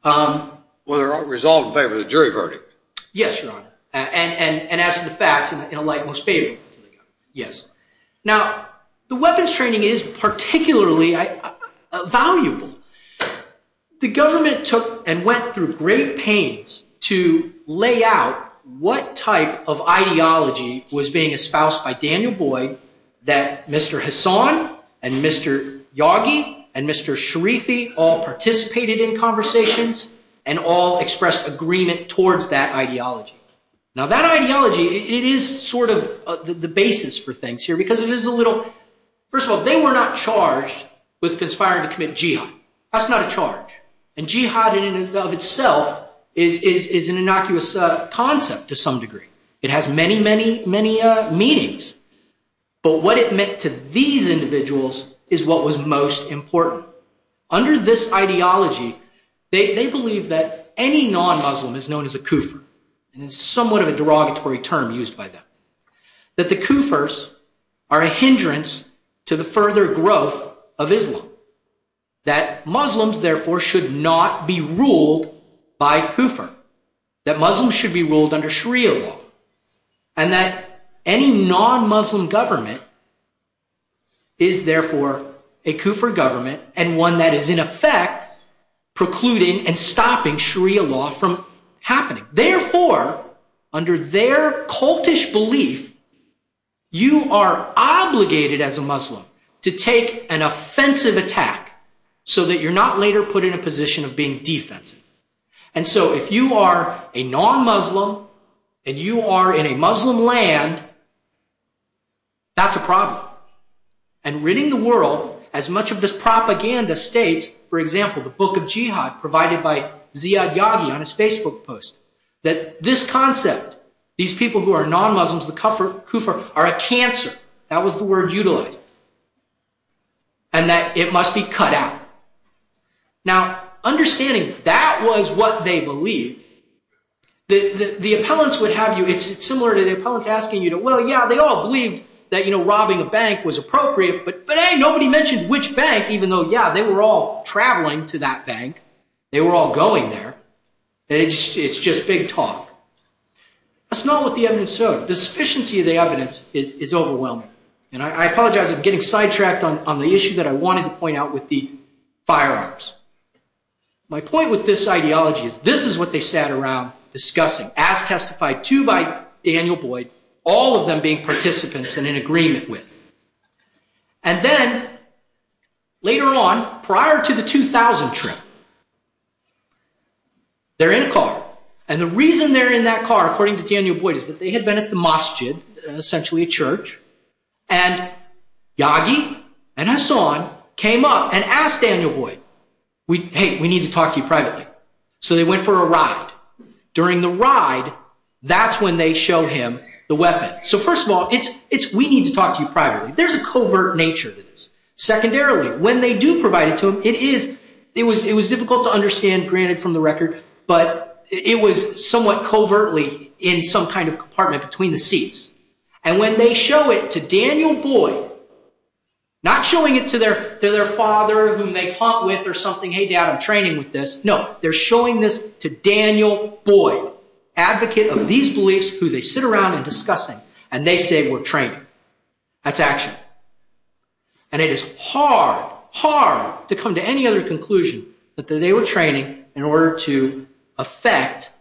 Well, they're all resolved in favor of the jury verdict. Yes, Your Honor, and as a fact, in a light most favorable to you. Yes. Now, the weapons training is particularly valuable. The government took and went through great pains to lay out what type of ideology was being espoused by Daniel Boyd that Mr. Hassan and Mr. Yagi and Mr. Sharifi all participated in conversations and all expressed agreement towards that ideology. Now, that ideology, it is sort of the basis for things here because it is a little – first of all, they were not charged with conspiring to commit jihad. That's not a charge. And jihad in and of itself is an innocuous concept to some degree. It has many, many, many meanings. But what it meant to these individuals is what was most important. Under this ideology, they believe that any non-Muslim is known as a kufr, and it's somewhat of a derogatory term used by them, that the kufrs are a hindrance to the further growth of Islam, that Muslims, therefore, should not be ruled by kufr, that Muslims should be ruled under Sharia law, and that any non-Muslim government is, therefore, a kufr government and one that is, in effect, precluding and stopping Sharia law from happening. Therefore, under their cultish belief, you are obligated as a Muslim to take an offensive attack so that you're not later put in a position of being defensive. And so if you are a non-Muslim and you are in a Muslim land, that's a problem. And ridding the world, as much of this propaganda states, for example, the book of Jihad provided by Ziad Yaghi on his Facebook post, that this concept, these people who are non-Muslims, the kufr, are a cancer. That was the word utilized. And that it must be cut out. Now, understanding that was what they believed, the opponents would have you, it's similar to the opponents asking you, well, yeah, they all believed that robbing a bank was appropriate, but hey, nobody mentioned which bank, even though, yeah, they were all traveling to that bank. They were all going there. It's just big talk. That's not what the evidence showed. The sufficiency of the evidence is overwhelming. And I apologize. I'm getting sidetracked on the issue that I wanted to point out with the firearms. My point with this ideology is this is what they sat around discussing, as testified to by Daniel Boyd, all of them being participants and in agreement with. And then, later on, prior to the 2000 trip, they're in a car. And the reason they're in that car, according to Daniel Boyd, is that they had been at the masjid, essentially a church, and Yagi and Hassan came up and asked Daniel Boyd, hey, we need to talk to you privately. So they went for a ride. During the ride, that's when they showed him the weapon. So, first of all, it's we need to talk to you privately. There's a covert nature to this. Secondarily, when they do provide it to him, it was difficult to understand, granted, from the record, but it was somewhat covertly in some kind of compartment between the seats. And when they show it to Daniel Boyd, not showing it to their father, who they talk with or something, hey, Dad, I'm training with this. No, they're showing this to Daniel Boyd, a real advocate of these beliefs who they sit around and discuss it, and they say we're training. That's action. And it is hard, hard to come to any other conclusion that they were training in order to affect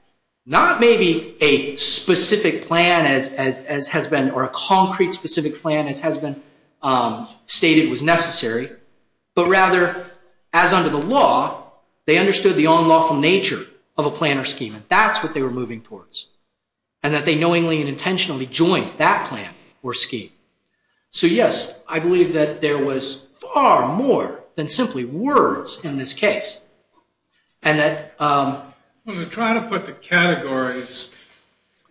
not maybe a specific plan as has been, or a concrete specific plan as has been stated was necessary, but rather, as under the law, they understood the unlawful nature of a plan or scheme, and that's what they were moving towards, and that they knowingly and intentionally joined that plan or scheme. So, yes, I believe that there was far more than simply words in this case, and that... I'm going to try to put the categories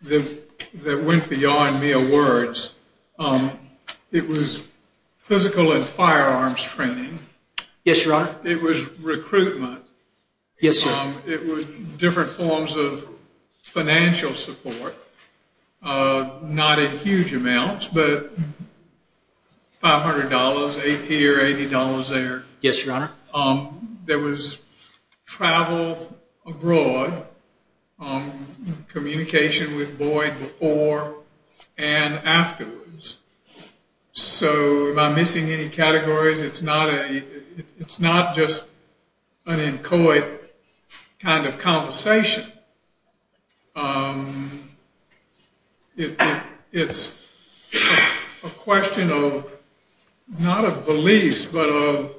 that went beyond mere words. It was physical and firearms training. Yes, Your Honor. It was recruitment. Yes, Your Honor. It was different forms of financial support, not in huge amounts, but $500, $80 there. Yes, Your Honor. There was travel abroad, communication with Boyd before and afterwards. So, am I missing any categories? It's not just an inchoate kind of conversation. It's a question of not of beliefs, but of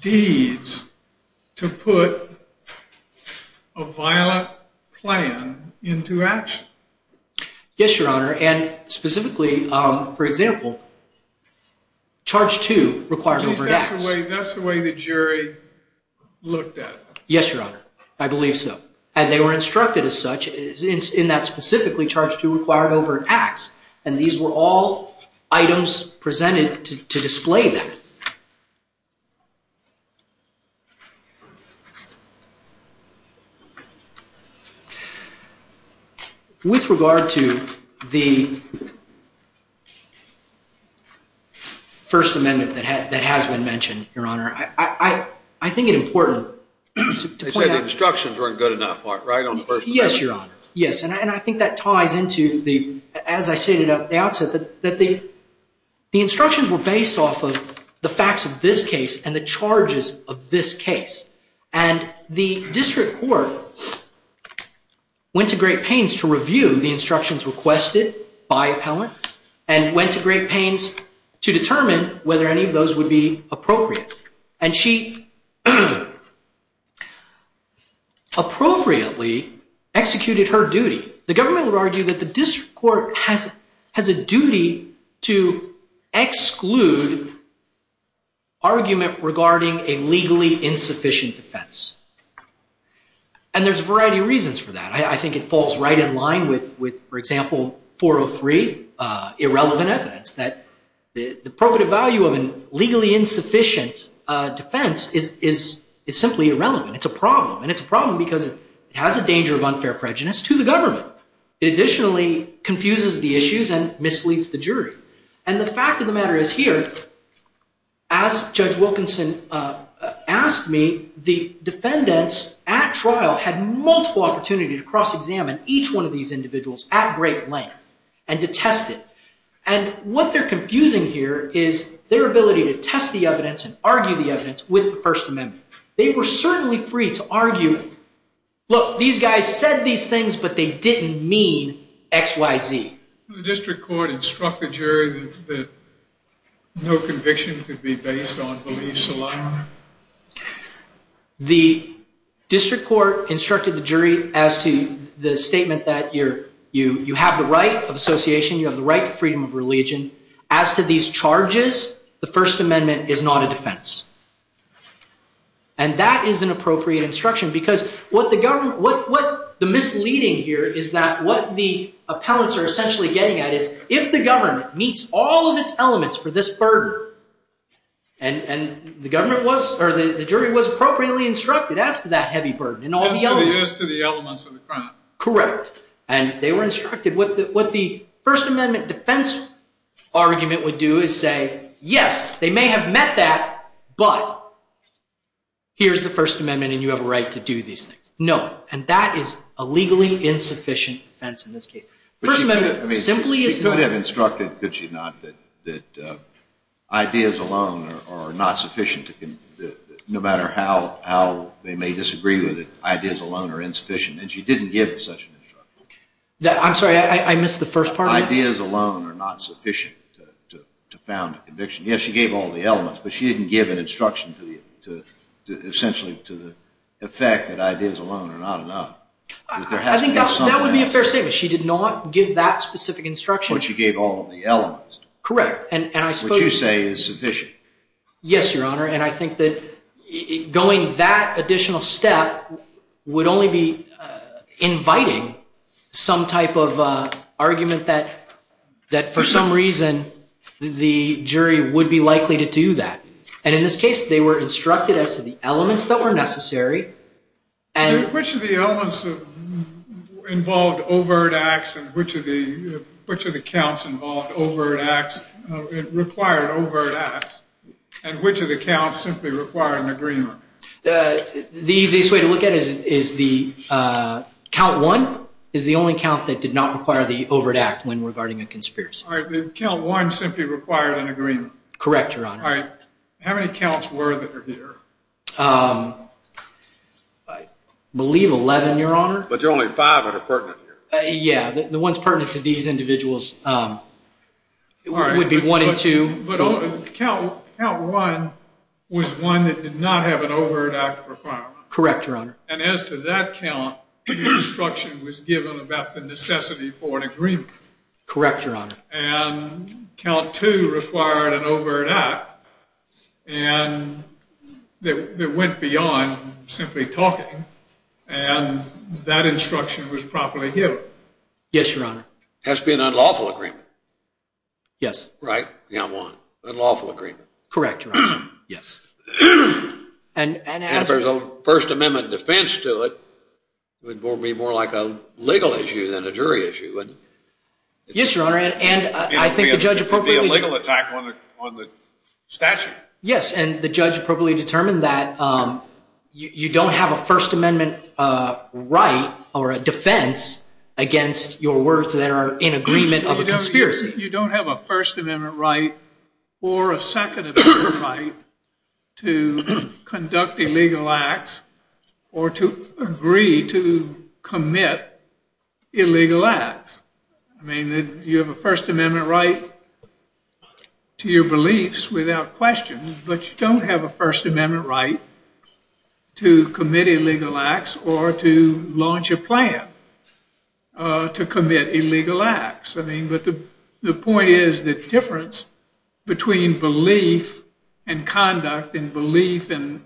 deeds to put a violent plan into action. Yes, Your Honor. And specifically, for example, charge two required over an act. That's the way the jury looked at it. Yes, Your Honor. I believe so. And they were instructed as such in that specifically charge two required over an act, and these were all items presented to display that. With regard to the First Amendment that has been mentioned, Your Honor, I think it's important to point out... They said the instructions weren't good enough, right, on the First Amendment? Yes, Your Honor. Yes, and I think that ties into, as I stated at the outset, that the instructions were based off of the facts of this case and the charges of this case. And the district court went to great pains to review the instructions requested by appellants and went to great pains to determine whether any of those would be appropriate. And she appropriately executed her duty. The government would argue that the district court has a duty to exclude argument regarding a legally insufficient defense. And there's a variety of reasons for that. I think it falls right in line with, for example, 403, irrelevant evidence, that the appropriate value of a legally insufficient defense is simply irrelevant. It's a problem. And it's a problem because it has a danger of unfair prejudice to the government. It additionally confuses the issues and misleads the jury. And the fact of the matter is here, as Judge Wilkinson asked me, the defendants at trial had multiple opportunities to cross-examine each one of these individuals at great length and to test it. And what they're confusing here is their ability to test the evidence and argue the evidence with the First Amendment. They were certainly free to argue, look, these guys said these things, but they didn't mean X, Y, Z. The district court instructed the jury that no conviction could be based on beliefs alone? The district court instructed the jury as to the statement that you have the right of association, you have the right to freedom of religion. As to these charges, the First Amendment is not a defense. And that is an appropriate instruction because what the misleading here is that what the appellants are essentially getting at is if the government meets all of its elements for this burden, and the jury was appropriately instructed as to that heavy burden. As to the elements of the crime. Correct. And they were instructed. What the First Amendment defense argument would do is say, yes, they may have met that, but here's the First Amendment and you have a right to do these things. No. And that is a legally insufficient defense in this case. First Amendment simply is not. She could have instructed, could she not, that ideas alone are not sufficient, no matter how they may disagree with it, ideas alone are insufficient. And she didn't give such an instruction. I'm sorry. I missed the first part. Ideas alone are not sufficient to found a conviction. Yes, she gave all of the elements, but she didn't give an instruction to essentially to the effect that ideas alone are not enough. I think that would be a fair statement. She did not give that specific instruction. But she gave all of the elements. Correct. Which you say is sufficient. Yes, Your Honor. And I think that going that additional step would only be inviting some type of argument that for some reason the jury would be likely to do that. And in this case, they were instructed as to the elements that were necessary. Which of the elements involved overt acts and which of the counts required overt acts and which of the counts simply required an agreement? The easiest way to look at it is the count one is the only count that did not require the overt act when regarding a conspiracy. All right. The count one simply required an agreement. Correct, Your Honor. All right. How many counts were there here? I believe 11, Your Honor. But there are only five that are pertinent here. Yeah. The ones pertinent to these individuals would be one and two. Count one was one that did not have an overt act requirement. Correct, Your Honor. And as to that count, the instruction was given about the necessity for an agreement. Correct, Your Honor. And count two required an overt act. And it went beyond simply talking. And that instruction was properly given. Yes, Your Honor. It has to be an unlawful agreement. Yes. Right? Yeah, one. Unlawful agreement. Correct, Your Honor. Yes. And if there's a First Amendment defense to it, it would be more like a legal issue than a jury issue. Yes, Your Honor. And I think the judge appropriately It would be a legal attack on the statute. Yes. And the judge appropriately determined that you don't have a First Amendment right or a defense against your words that are in agreement of a conspiracy. You don't have a First Amendment right or a Second Amendment right to conduct illegal acts or to agree to commit illegal acts. I mean, you have a First Amendment right to your beliefs without question, but you don't have a First Amendment right to commit illegal acts or to launch a plan to commit illegal acts. I mean, but the point is the difference between belief and conduct and belief and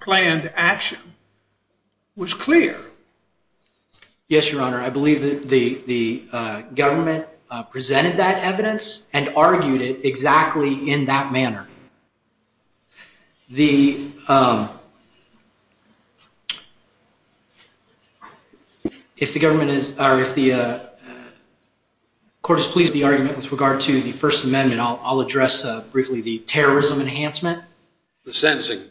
planned action was clear. Yes, Your Honor. I believe that the government presented that evidence and argued it exactly in that manner. The... If the government is, or if the court is pleased with the argument with regard to the First Amendment, I'll address briefly the terrorism enhancement. The sentencing.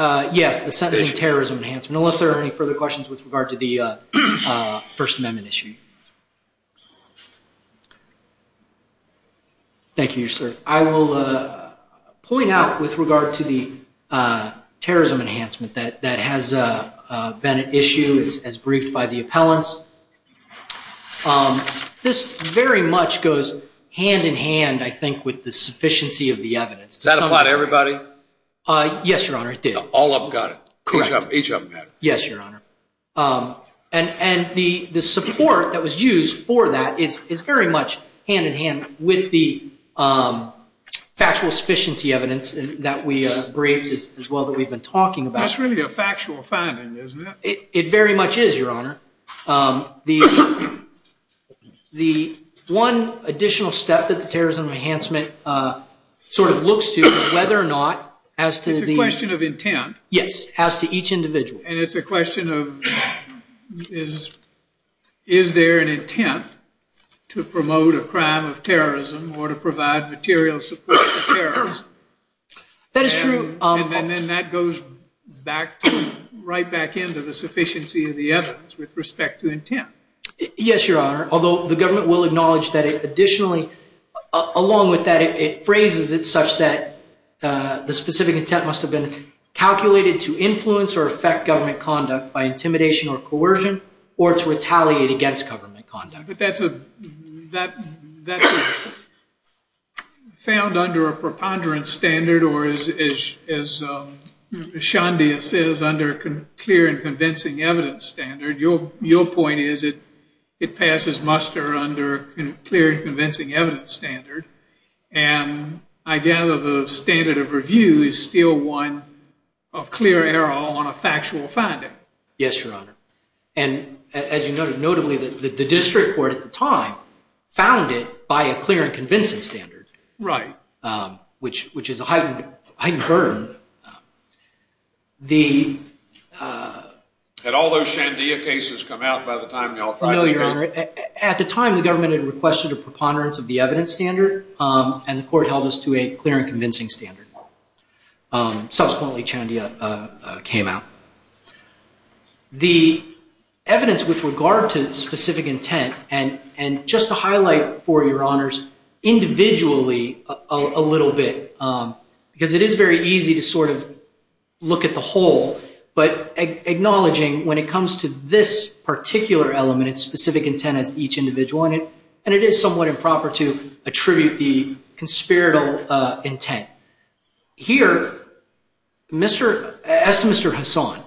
Yes, the sentencing and terrorism enhancement, unless there are any further questions with regard to the First Amendment issue. Thank you, Your Honor. I will point out with regard to the terrorism enhancement that has been an issue as briefed by the appellants. This very much goes hand in hand, I think, with the sufficiency of the evidence. Does that apply to everybody? Yes, Your Honor, it does. All of them got it. Correct. Each of them got it. Yes, Your Honor. And the support that was used for that is very much hand in hand with the factual sufficiency evidence that we briefed as well that we've been talking about. That's really a factual finding, isn't it? It very much is, Your Honor. The one additional step that the terrorism enhancement sort of looks to is whether or not as to the... It's a question of intent. Yes, as to each individual. And it's a question of is there an intent to promote a crime of terrorism or to provide material support for terrorism? That is true. And then that goes right back into the sufficiency of the evidence with respect to intent. Yes, Your Honor. Although the government will acknowledge that it additionally, along with that, it phrases it such that the specific intent must have been calculated to influence or affect government conduct by intimidation or coercion or to retaliate against government conduct. But that's found under a preponderance standard or, as Shandi says, under a clear and convincing evidence standard. Your point is it passes muster under a clear and convincing evidence standard. And I gather the standard of review is still one of clear error on a factual finding. Yes, Your Honor. And as you noted, notably, the district court at the time found it by a clear and convincing standard. Right. Which is a heightened burden. Had all those Shandia cases come out by the time they all... No, Your Honor. At the time, the government had requested a preponderance of the evidence standard, and the court held this to a clear and convincing standard. Subsequently, Shandia came out. The evidence with regard to specific intent, and just to highlight for Your Honors, individually a little bit, because it is very easy to sort of look at the whole, but acknowledging when it comes to this particular element, it's specific intent of each individual, and it is somewhat improper to attribute the conspiratorial intent. Here, as to Mr. Hassan,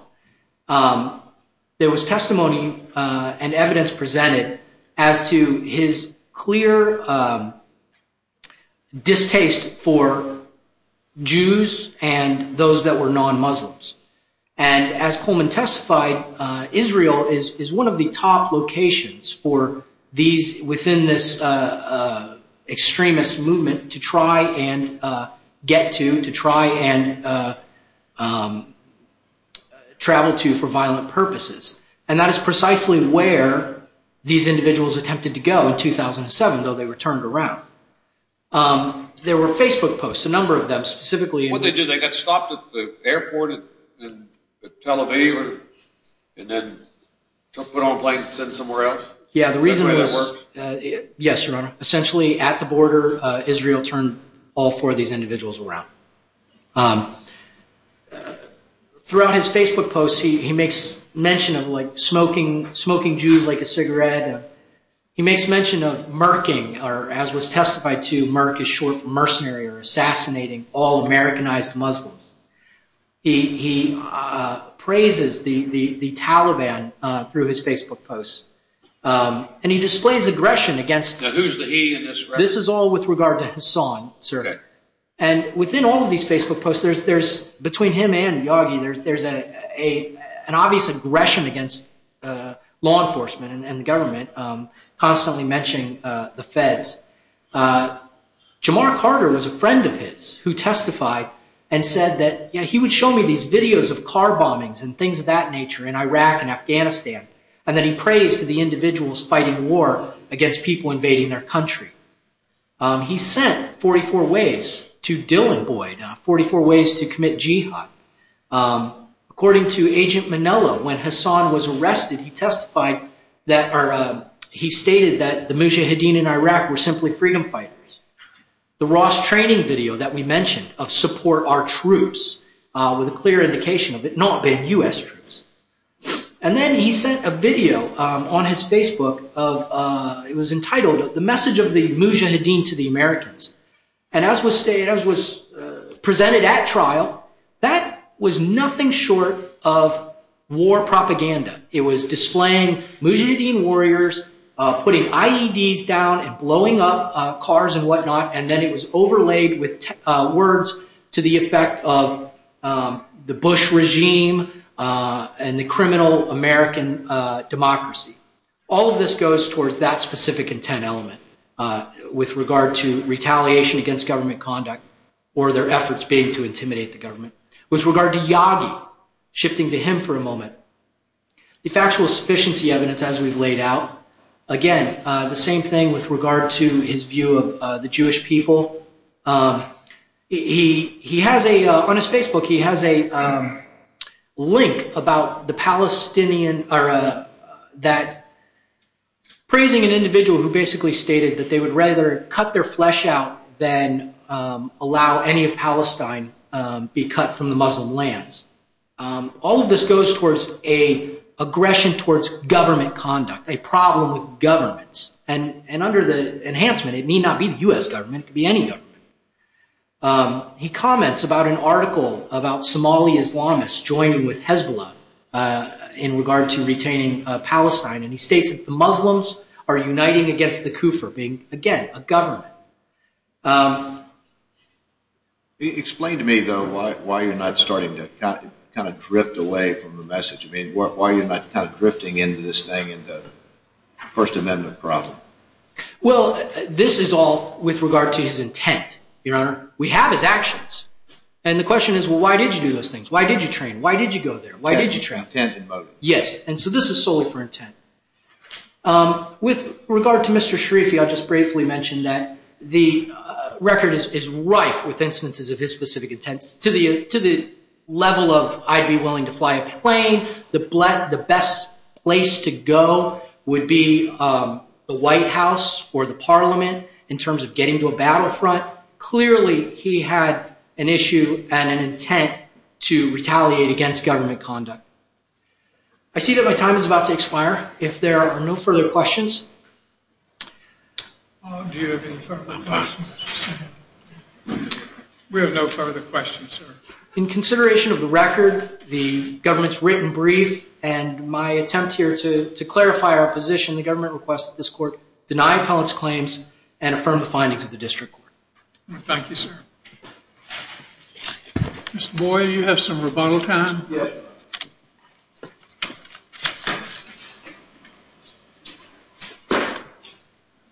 there was testimony and evidence presented as to his clear distaste for Jews and those that were non-Muslims. And as Coleman testified, Israel is one of the top locations for these, within this extremist movement, to try and get to, to try and travel to for violent purposes. And that is precisely where these individuals attempted to go in 2007, though they were turned around. There were Facebook posts, a number of them, specifically... Well, didn't they get stopped at the airport in Tel Aviv, and then they were put on a plane and sent somewhere else? Yes, Your Honor. Essentially, at the border, Israel turned all four of these individuals around. Throughout his Facebook posts, he makes mention of, like, smoking Jews like a cigarette. He makes mention of murking, or as was testified to, murk is short for mercenary or assassinating all Americanized Muslims. He praises the Taliban through his Facebook posts, and he displays aggression against them. Now, who's the he and who's the she? This is all with regard to Hassan, sir. And within all of these Facebook posts, there's, between him and Yagi, there's an obvious aggression against law enforcement and government, constantly mentioning the feds. Jamar Carter was a friend of his who testified and said that, you know, he would show me these videos of car bombings and things of that nature in Iraq and Afghanistan, and that he praised the individuals fighting war against people invading their country. He sent 44 ways to Dylan Boyd, 44 ways to commit jihad. According to Agent Manila, when Hassan was arrested, he testified that, or he stated that the Mujahideen in Iraq were simply freedom fighters. The Ross training video that we mentioned of support our troops with a clear indication of it not being U.S. troops. And then he sent a video on his Facebook of, it was entitled, The Message of the Mujahideen to the Americans. And as was presented at trial, that was nothing short of war propaganda. It was displaying Mujahideen warriors putting IEDs down and blowing up cars and whatnot, and then it was overlaid with words to the effect of the Bush regime and the criminal American democracy. All of this goes towards that specific intent element with regard to retaliation against government conduct or their efforts being to intimidate the government. With regard to Yadi, shifting to him for a moment, the factual sufficiency evidence as we've laid out, again, the same thing with regard to his view of the Jewish people. On his Facebook, he has a link about the Palestinian, praising an individual who basically stated that they would rather cut their flesh out than allow any of Palestine be cut from the Muslim lands. All of this goes towards an aggression towards government conduct, a problem with governments. And under the enhancement, it may not be the U.S. government, it could be any government. He comments about an article about Somali Islamists joining with Hezbollah in regard to retaining Palestine, and he states that the Muslims are uniting against the Kufr, again, a government. Explain to me, though, why you're not starting to kind of drift away from the message. I mean, why are you not kind of drifting into this thing, into the First Amendment problem? Well, this is all with regard to his intent, Your Honor. We have his actions. And the question is, well, why did you do those things? Why did you train? Why did you go there? Why did you train? Intent and motive. Yes, and so this is solely for intent. With regard to Mr. Sharifi, I'll just briefly mention that the record is ripe with instances of his specific intent. To the level of, I'd be willing to fly a plane. The best place to go would be the White House or the Parliament in terms of getting to a battlefront. Clearly, he had an issue and an intent to retaliate against government conduct. I see that my time is about to expire. If there are no further questions. We have no further questions, sir. In consideration of the record, the government's written brief, and my attempt here to clarify our position, the government requests that this court deny Pollack's claims and affirm the findings of the district court. Thank you, sir. Mr. Boyd, you have some rebuttal time? Yes.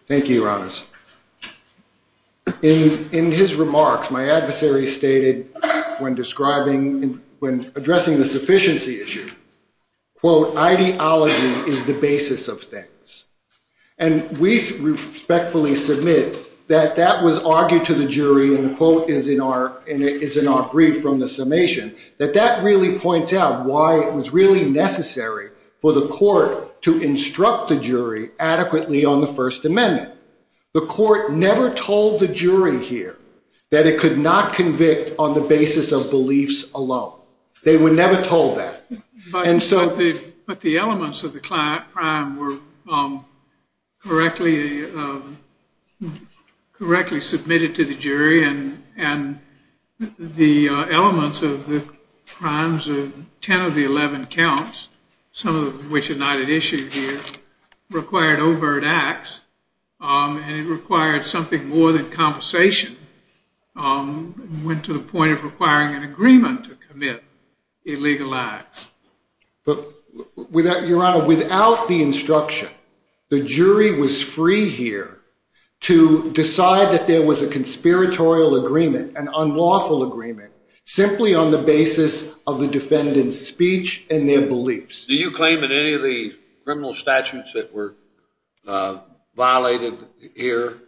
Thank you, Ron. In his remarks, my adversary stated when addressing the sufficiency issue, quote, I want to point out why it was really necessary for the court to instruct the jury adequately on the First Amendment. The court never told the jury here that it could not convict on the basis of beliefs alone. They were never told that. But the elements of the crime were correctly submitted to the jury. And the elements of the crimes of 10 of the 11 counts, some of which are not at issue here, required overt acts. And it required something more than compensation. It went to the point of requiring an agreement to commit illegal acts. Your Honor, without the instruction, the jury was free here to decide that there was a conspiratorial agreement, an unlawful agreement, simply on the basis of the defendant's speech and their beliefs. Do you claim that any of the criminal statutes that were violated here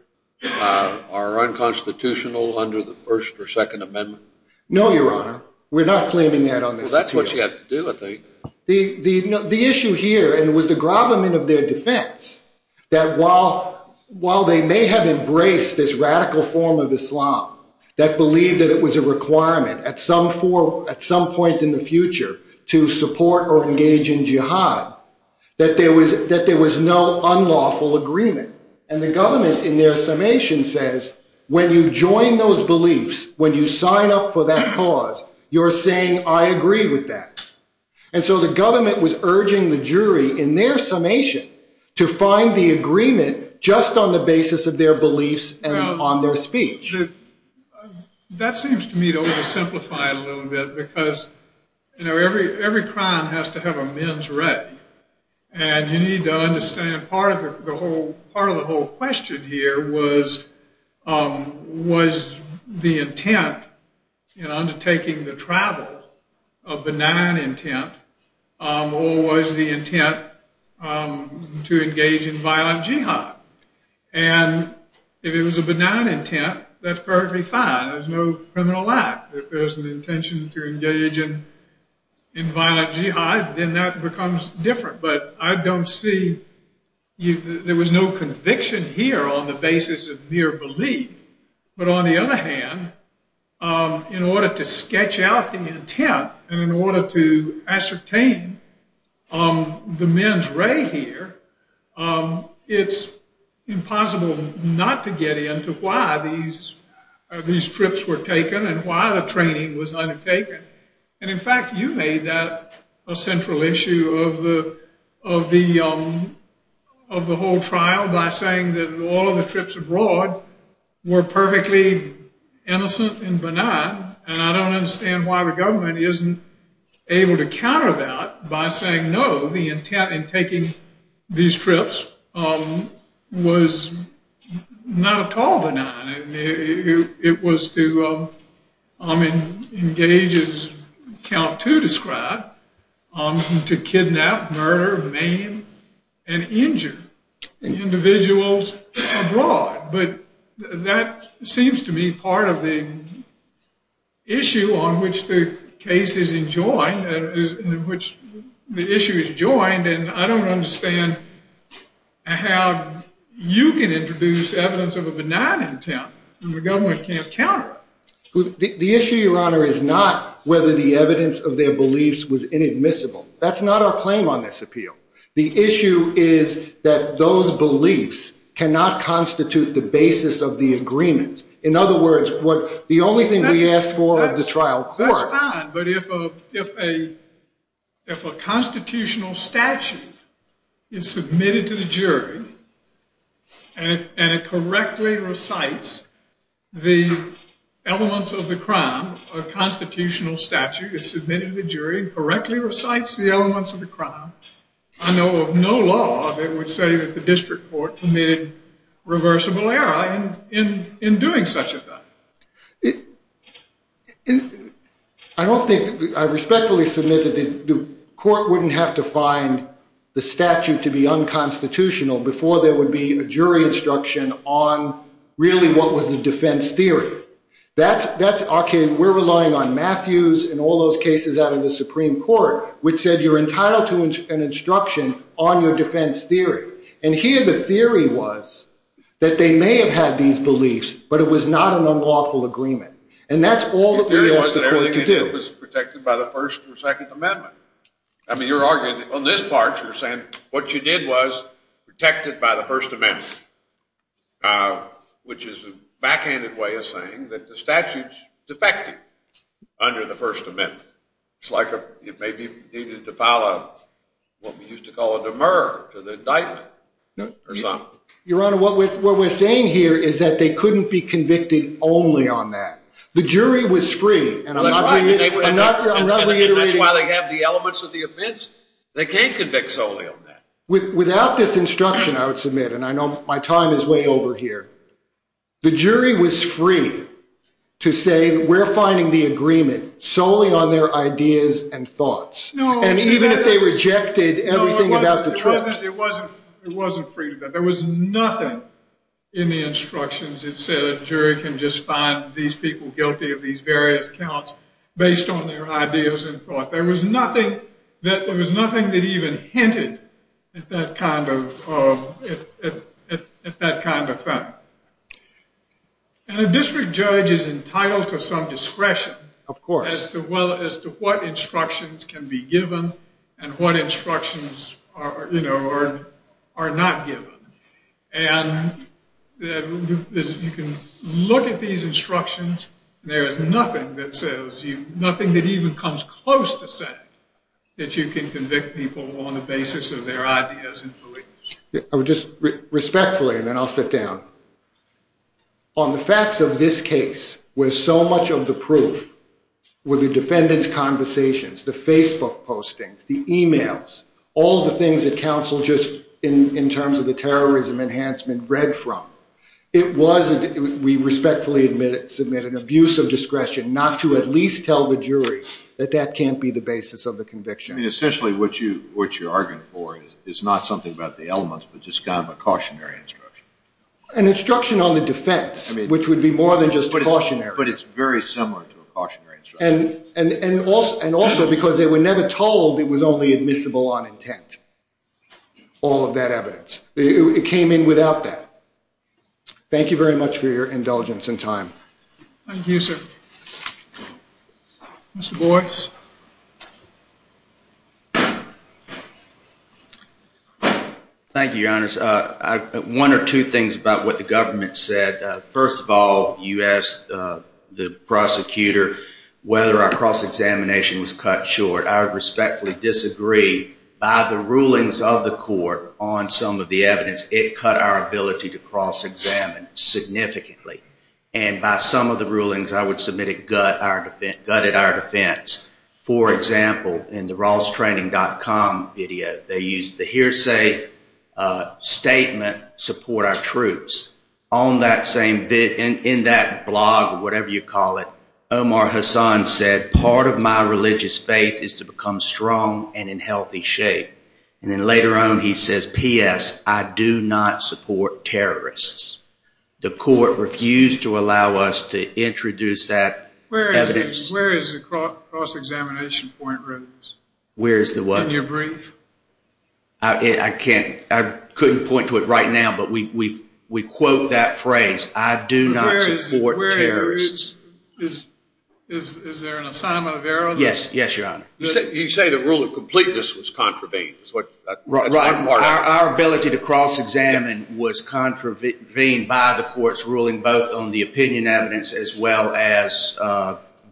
are unconstitutional under the First or Second Amendment? No, Your Honor. We're not claiming that on this case. Because that's what you have to deal with, ain't it? The issue here, and with the gravamen of their defense, that while they may have embraced this radical form of Islam, that believed that it was a requirement at some point in the future to support or engage in jihad, that there was no unlawful agreement. And the government, in their summation, says, when you join those beliefs, when you sign up for that cause, you're saying, I agree with that. And so the government was urging the jury, in their summation, to find the agreement just on the basis of their beliefs and on their speech. That seems to me to oversimplify a little bit, because every crime has to have a men's right. And you need to understand part of the whole question here was, was the intent in undertaking the travel a benign intent, or was the intent to engage in violent jihad? And if it was a benign intent, that's perfectly fine. There's no criminal act. If there's an intention to engage in violent jihad, then that becomes different. But I don't see, there was no conviction here on the basis of mere belief. But on the other hand, in order to sketch out the intent, and in order to ascertain the men's right here, it's impossible not to get into why these trips were taken and why the training was undertaken. And in fact, you made that a central issue of the whole trial, by saying that all of the trips abroad were perfectly innocent and benign. And I don't understand why the government isn't able to counter that by saying, no, the intent in taking these trips was not at all benign. It was to engage as Count To described, to kidnap, murder, maim, and injure individuals abroad. But that seems to me part of the issue on which the case is enjoined, in which the issue is enjoined. And I don't understand how you can introduce evidence of a benign intent when the government can't counter it. The issue, Your Honor, is not whether the evidence of their beliefs was inadmissible. That's not our claim on this appeal. The issue is that those beliefs cannot constitute the basis of the agreement. In other words, the only thing we ask for is the trial court. That's fine, but if a constitutional statute is submitted to the jury and it correctly recites the elements of the crime, a constitutional statute is submitted to the jury, if it correctly recites the elements of the crime, I know of no law that would say that the district court committed reversible error in doing such a thing. I respectfully submit that the court wouldn't have to find the statute to be unconstitutional before there would be a jury instruction on really what was the defense theory. Okay, we're relying on Matthews and all those cases out of the Supreme Court, which said you're entitled to an instruction on your defense theory. And here the theory was that they may have had these beliefs, but it was not an unlawful agreement. And that's all that we ask the jury to do. It was protected by the First and Second Amendment. I mean, you're arguing on this part, you're saying what you did was protect it by the First Amendment, which is a backhanded way of saying that the statute is defective under the First Amendment. It's like it may be needed to file what we used to call a demur to the indictment or something. Your Honor, what we're saying here is that they couldn't be convicted only on that. The jury was screwed. I'm not going to interrupt. That's why they have the elements of the offense. They can't convict solely on that. Without this instruction, I would submit, and I know my time is way over here, the jury was screwed to say we're finding the agreement solely on their ideas and thoughts. And even if they rejected everything about the trust. It wasn't freedom. There was nothing in the instructions that said a jury can just find these people guilty of these various counts based on their ideas and thoughts. There was nothing that even hinted at that kind of fact. And a district judge is entitled to some discretion as to what instructions can be given and what instructions are not given. And you can look at these instructions. There is nothing that even comes close to saying that you can convict people on the basis of their ideas and beliefs. Just respectfully, and then I'll sit down. On the facts of this case, where so much of the proof were the defendant's conversations, the Facebook postings, the e-mails, all the things that counsel just, in terms of the terrorism enhancement, read from. It was, we respectfully submit an abuse of discretion not to at least tell the jury that that can't be the basis of the conviction. Essentially what you're arguing for is not something about the elements, but just kind of a cautionary instruction. An instruction on the defense, which would be more than just cautionary. But it's very similar to a cautionary instruction. And also because they were never told it was only admissible on intent, all of that evidence. It came in without that. Thank you very much for your indulgence and time. Thank you, sir. Mr. Boyce. Thank you, Your Honor. One or two things about what the government said. First of all, you asked the prosecutor whether our cross-examination was cut short. I would respectfully disagree. By the rulings of the court on some of the evidence, it cut our ability to cross-examine significantly. And by some of the rulings, I would submit it gutted our defense. For example, in the RawlsTraining.com video, they used the hearsay statement, support our troops. In that blog, or whatever you call it, Omar Hassan said, part of my religious faith is to become strong and in healthy shape. And then later on, he says, P.S., I do not support terrorists. The court refused to allow us to introduce that evidence. Where is the cross-examination point written? Where is the what? In your brief. I couldn't point to it right now, but we quote that phrase. I do not support terrorists. Is there an assignment of errors? Yes, Your Honor. You say the rule of completeness was contravened. Our ability to cross-examine was contravened by the court's ruling, both on the opinion evidence as well as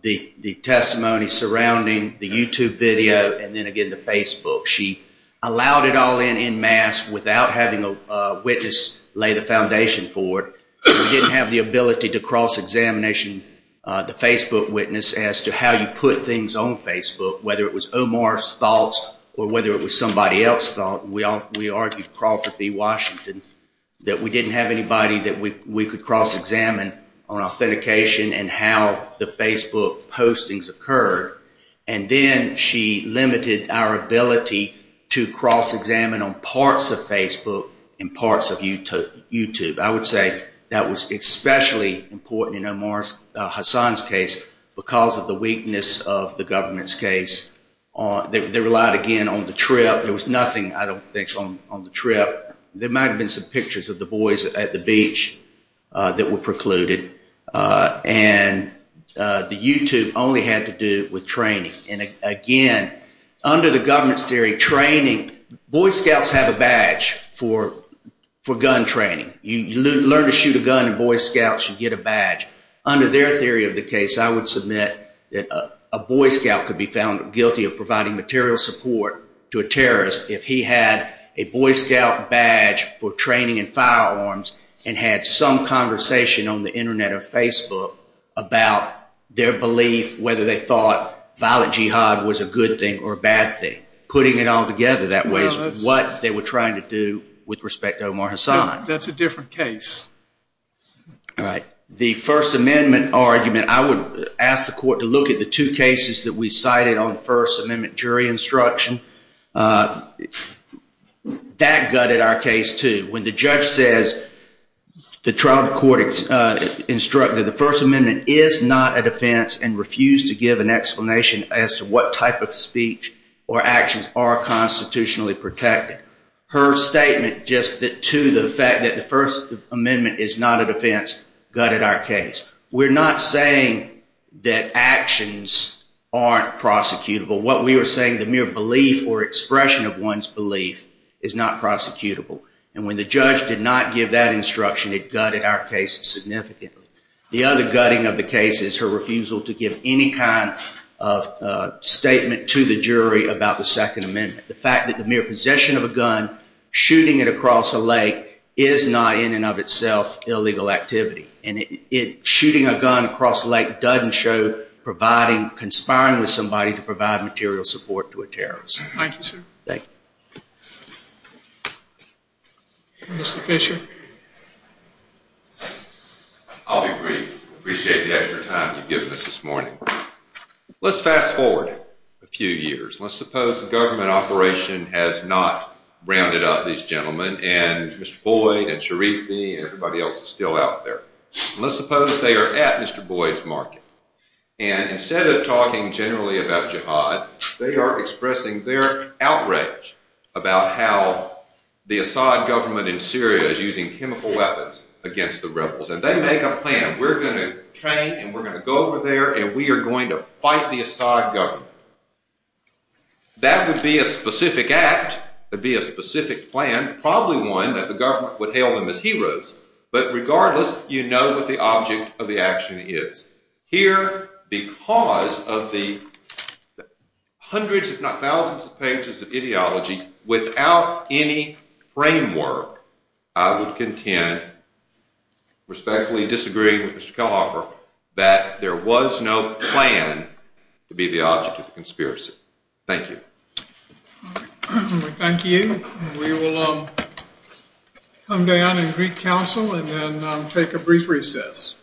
the testimony surrounding the YouTube video and then, again, the Facebook. She allowed it all in en masse without having a witness lay the foundation for it. We didn't have the ability to cross-examination the Facebook witness as to how you put things on Facebook, whether it was Omar's thoughts or whether it was somebody else's thoughts. We argued Crawford v. Washington that we didn't have anybody that we could cross-examine on authentication and how the Facebook postings occurred. And then she limited our ability to cross-examine on parts of Facebook and parts of YouTube. I would say that was especially important in Omar Hassan's case because of the weakness of the government's case. They relied, again, on the trip. There was nothing, I don't think, on the trip. There might have been some pictures of the boys at the beach that were precluded. And the YouTube only had to do with training. And, again, under the government's theory, training, Boy Scouts have a badge for gun training. You learn to shoot a gun in Boy Scouts, you get a badge. Under their theory of the case, I would submit that a Boy Scout could be found guilty of providing material support to a terrorist if he had a Boy Scout badge for training in firearms and had some conversation on the Internet or Facebook about their belief, whether they thought violent jihad was a good thing or a bad thing. Putting it all together that way is what they were trying to do with respect to Omar Hassan. That's a different case. All right. The First Amendment argument, I would ask the court to look at the two cases that we cited on First Amendment jury instruction. That gutted our case, too. When the judge says the trial court instructed the First Amendment is not a defense and refused to give an explanation as to what type of speech or actions are constitutionally protected, her statement just to the fact that the First Amendment is not a defense gutted our case. We're not saying that actions aren't prosecutable. What we were saying, the mere belief or expression of one's belief is not prosecutable. And when the judge did not give that instruction, it gutted our case significantly. The other gutting of the case is her refusal to give any kind of statement to the jury about the Second Amendment. The fact that the mere possession of a gun, shooting it across a lake, is not in and of itself illegal activity. And shooting a gun across a lake doesn't show conspiring with somebody to provide material support to a terrorist. Thank you, sir. Mr. Fisher? I'll be brief. I appreciate you having your time to give us this morning. Let's fast forward a few years. Let's suppose the government operation has not rounded up these gentlemen and Mr. Boyd and Sharifi and everybody else is still out there. Let's suppose they are at Mr. Boyd's market. And instead of talking generally about jihad, they are expressing their outrage about how the Assad government in Syria is using chemical weapons against the rebels. And they make a plan. We're going to train and we're going to go over there and we are going to fight the Assad government. That would be a specific act, would be a specific plan, probably one that the government would hail them as heroes. But regardless, you know what the object of the action is. Here, because of the hundreds if not thousands of pages of ideology, without any framework, I would contend, respectfully disagreeing with Mr. Kelhoffer, that there was no plan to be the object of the conspiracy. Thank you. Thank you. We will come down and greet counsel and then take a brief recess.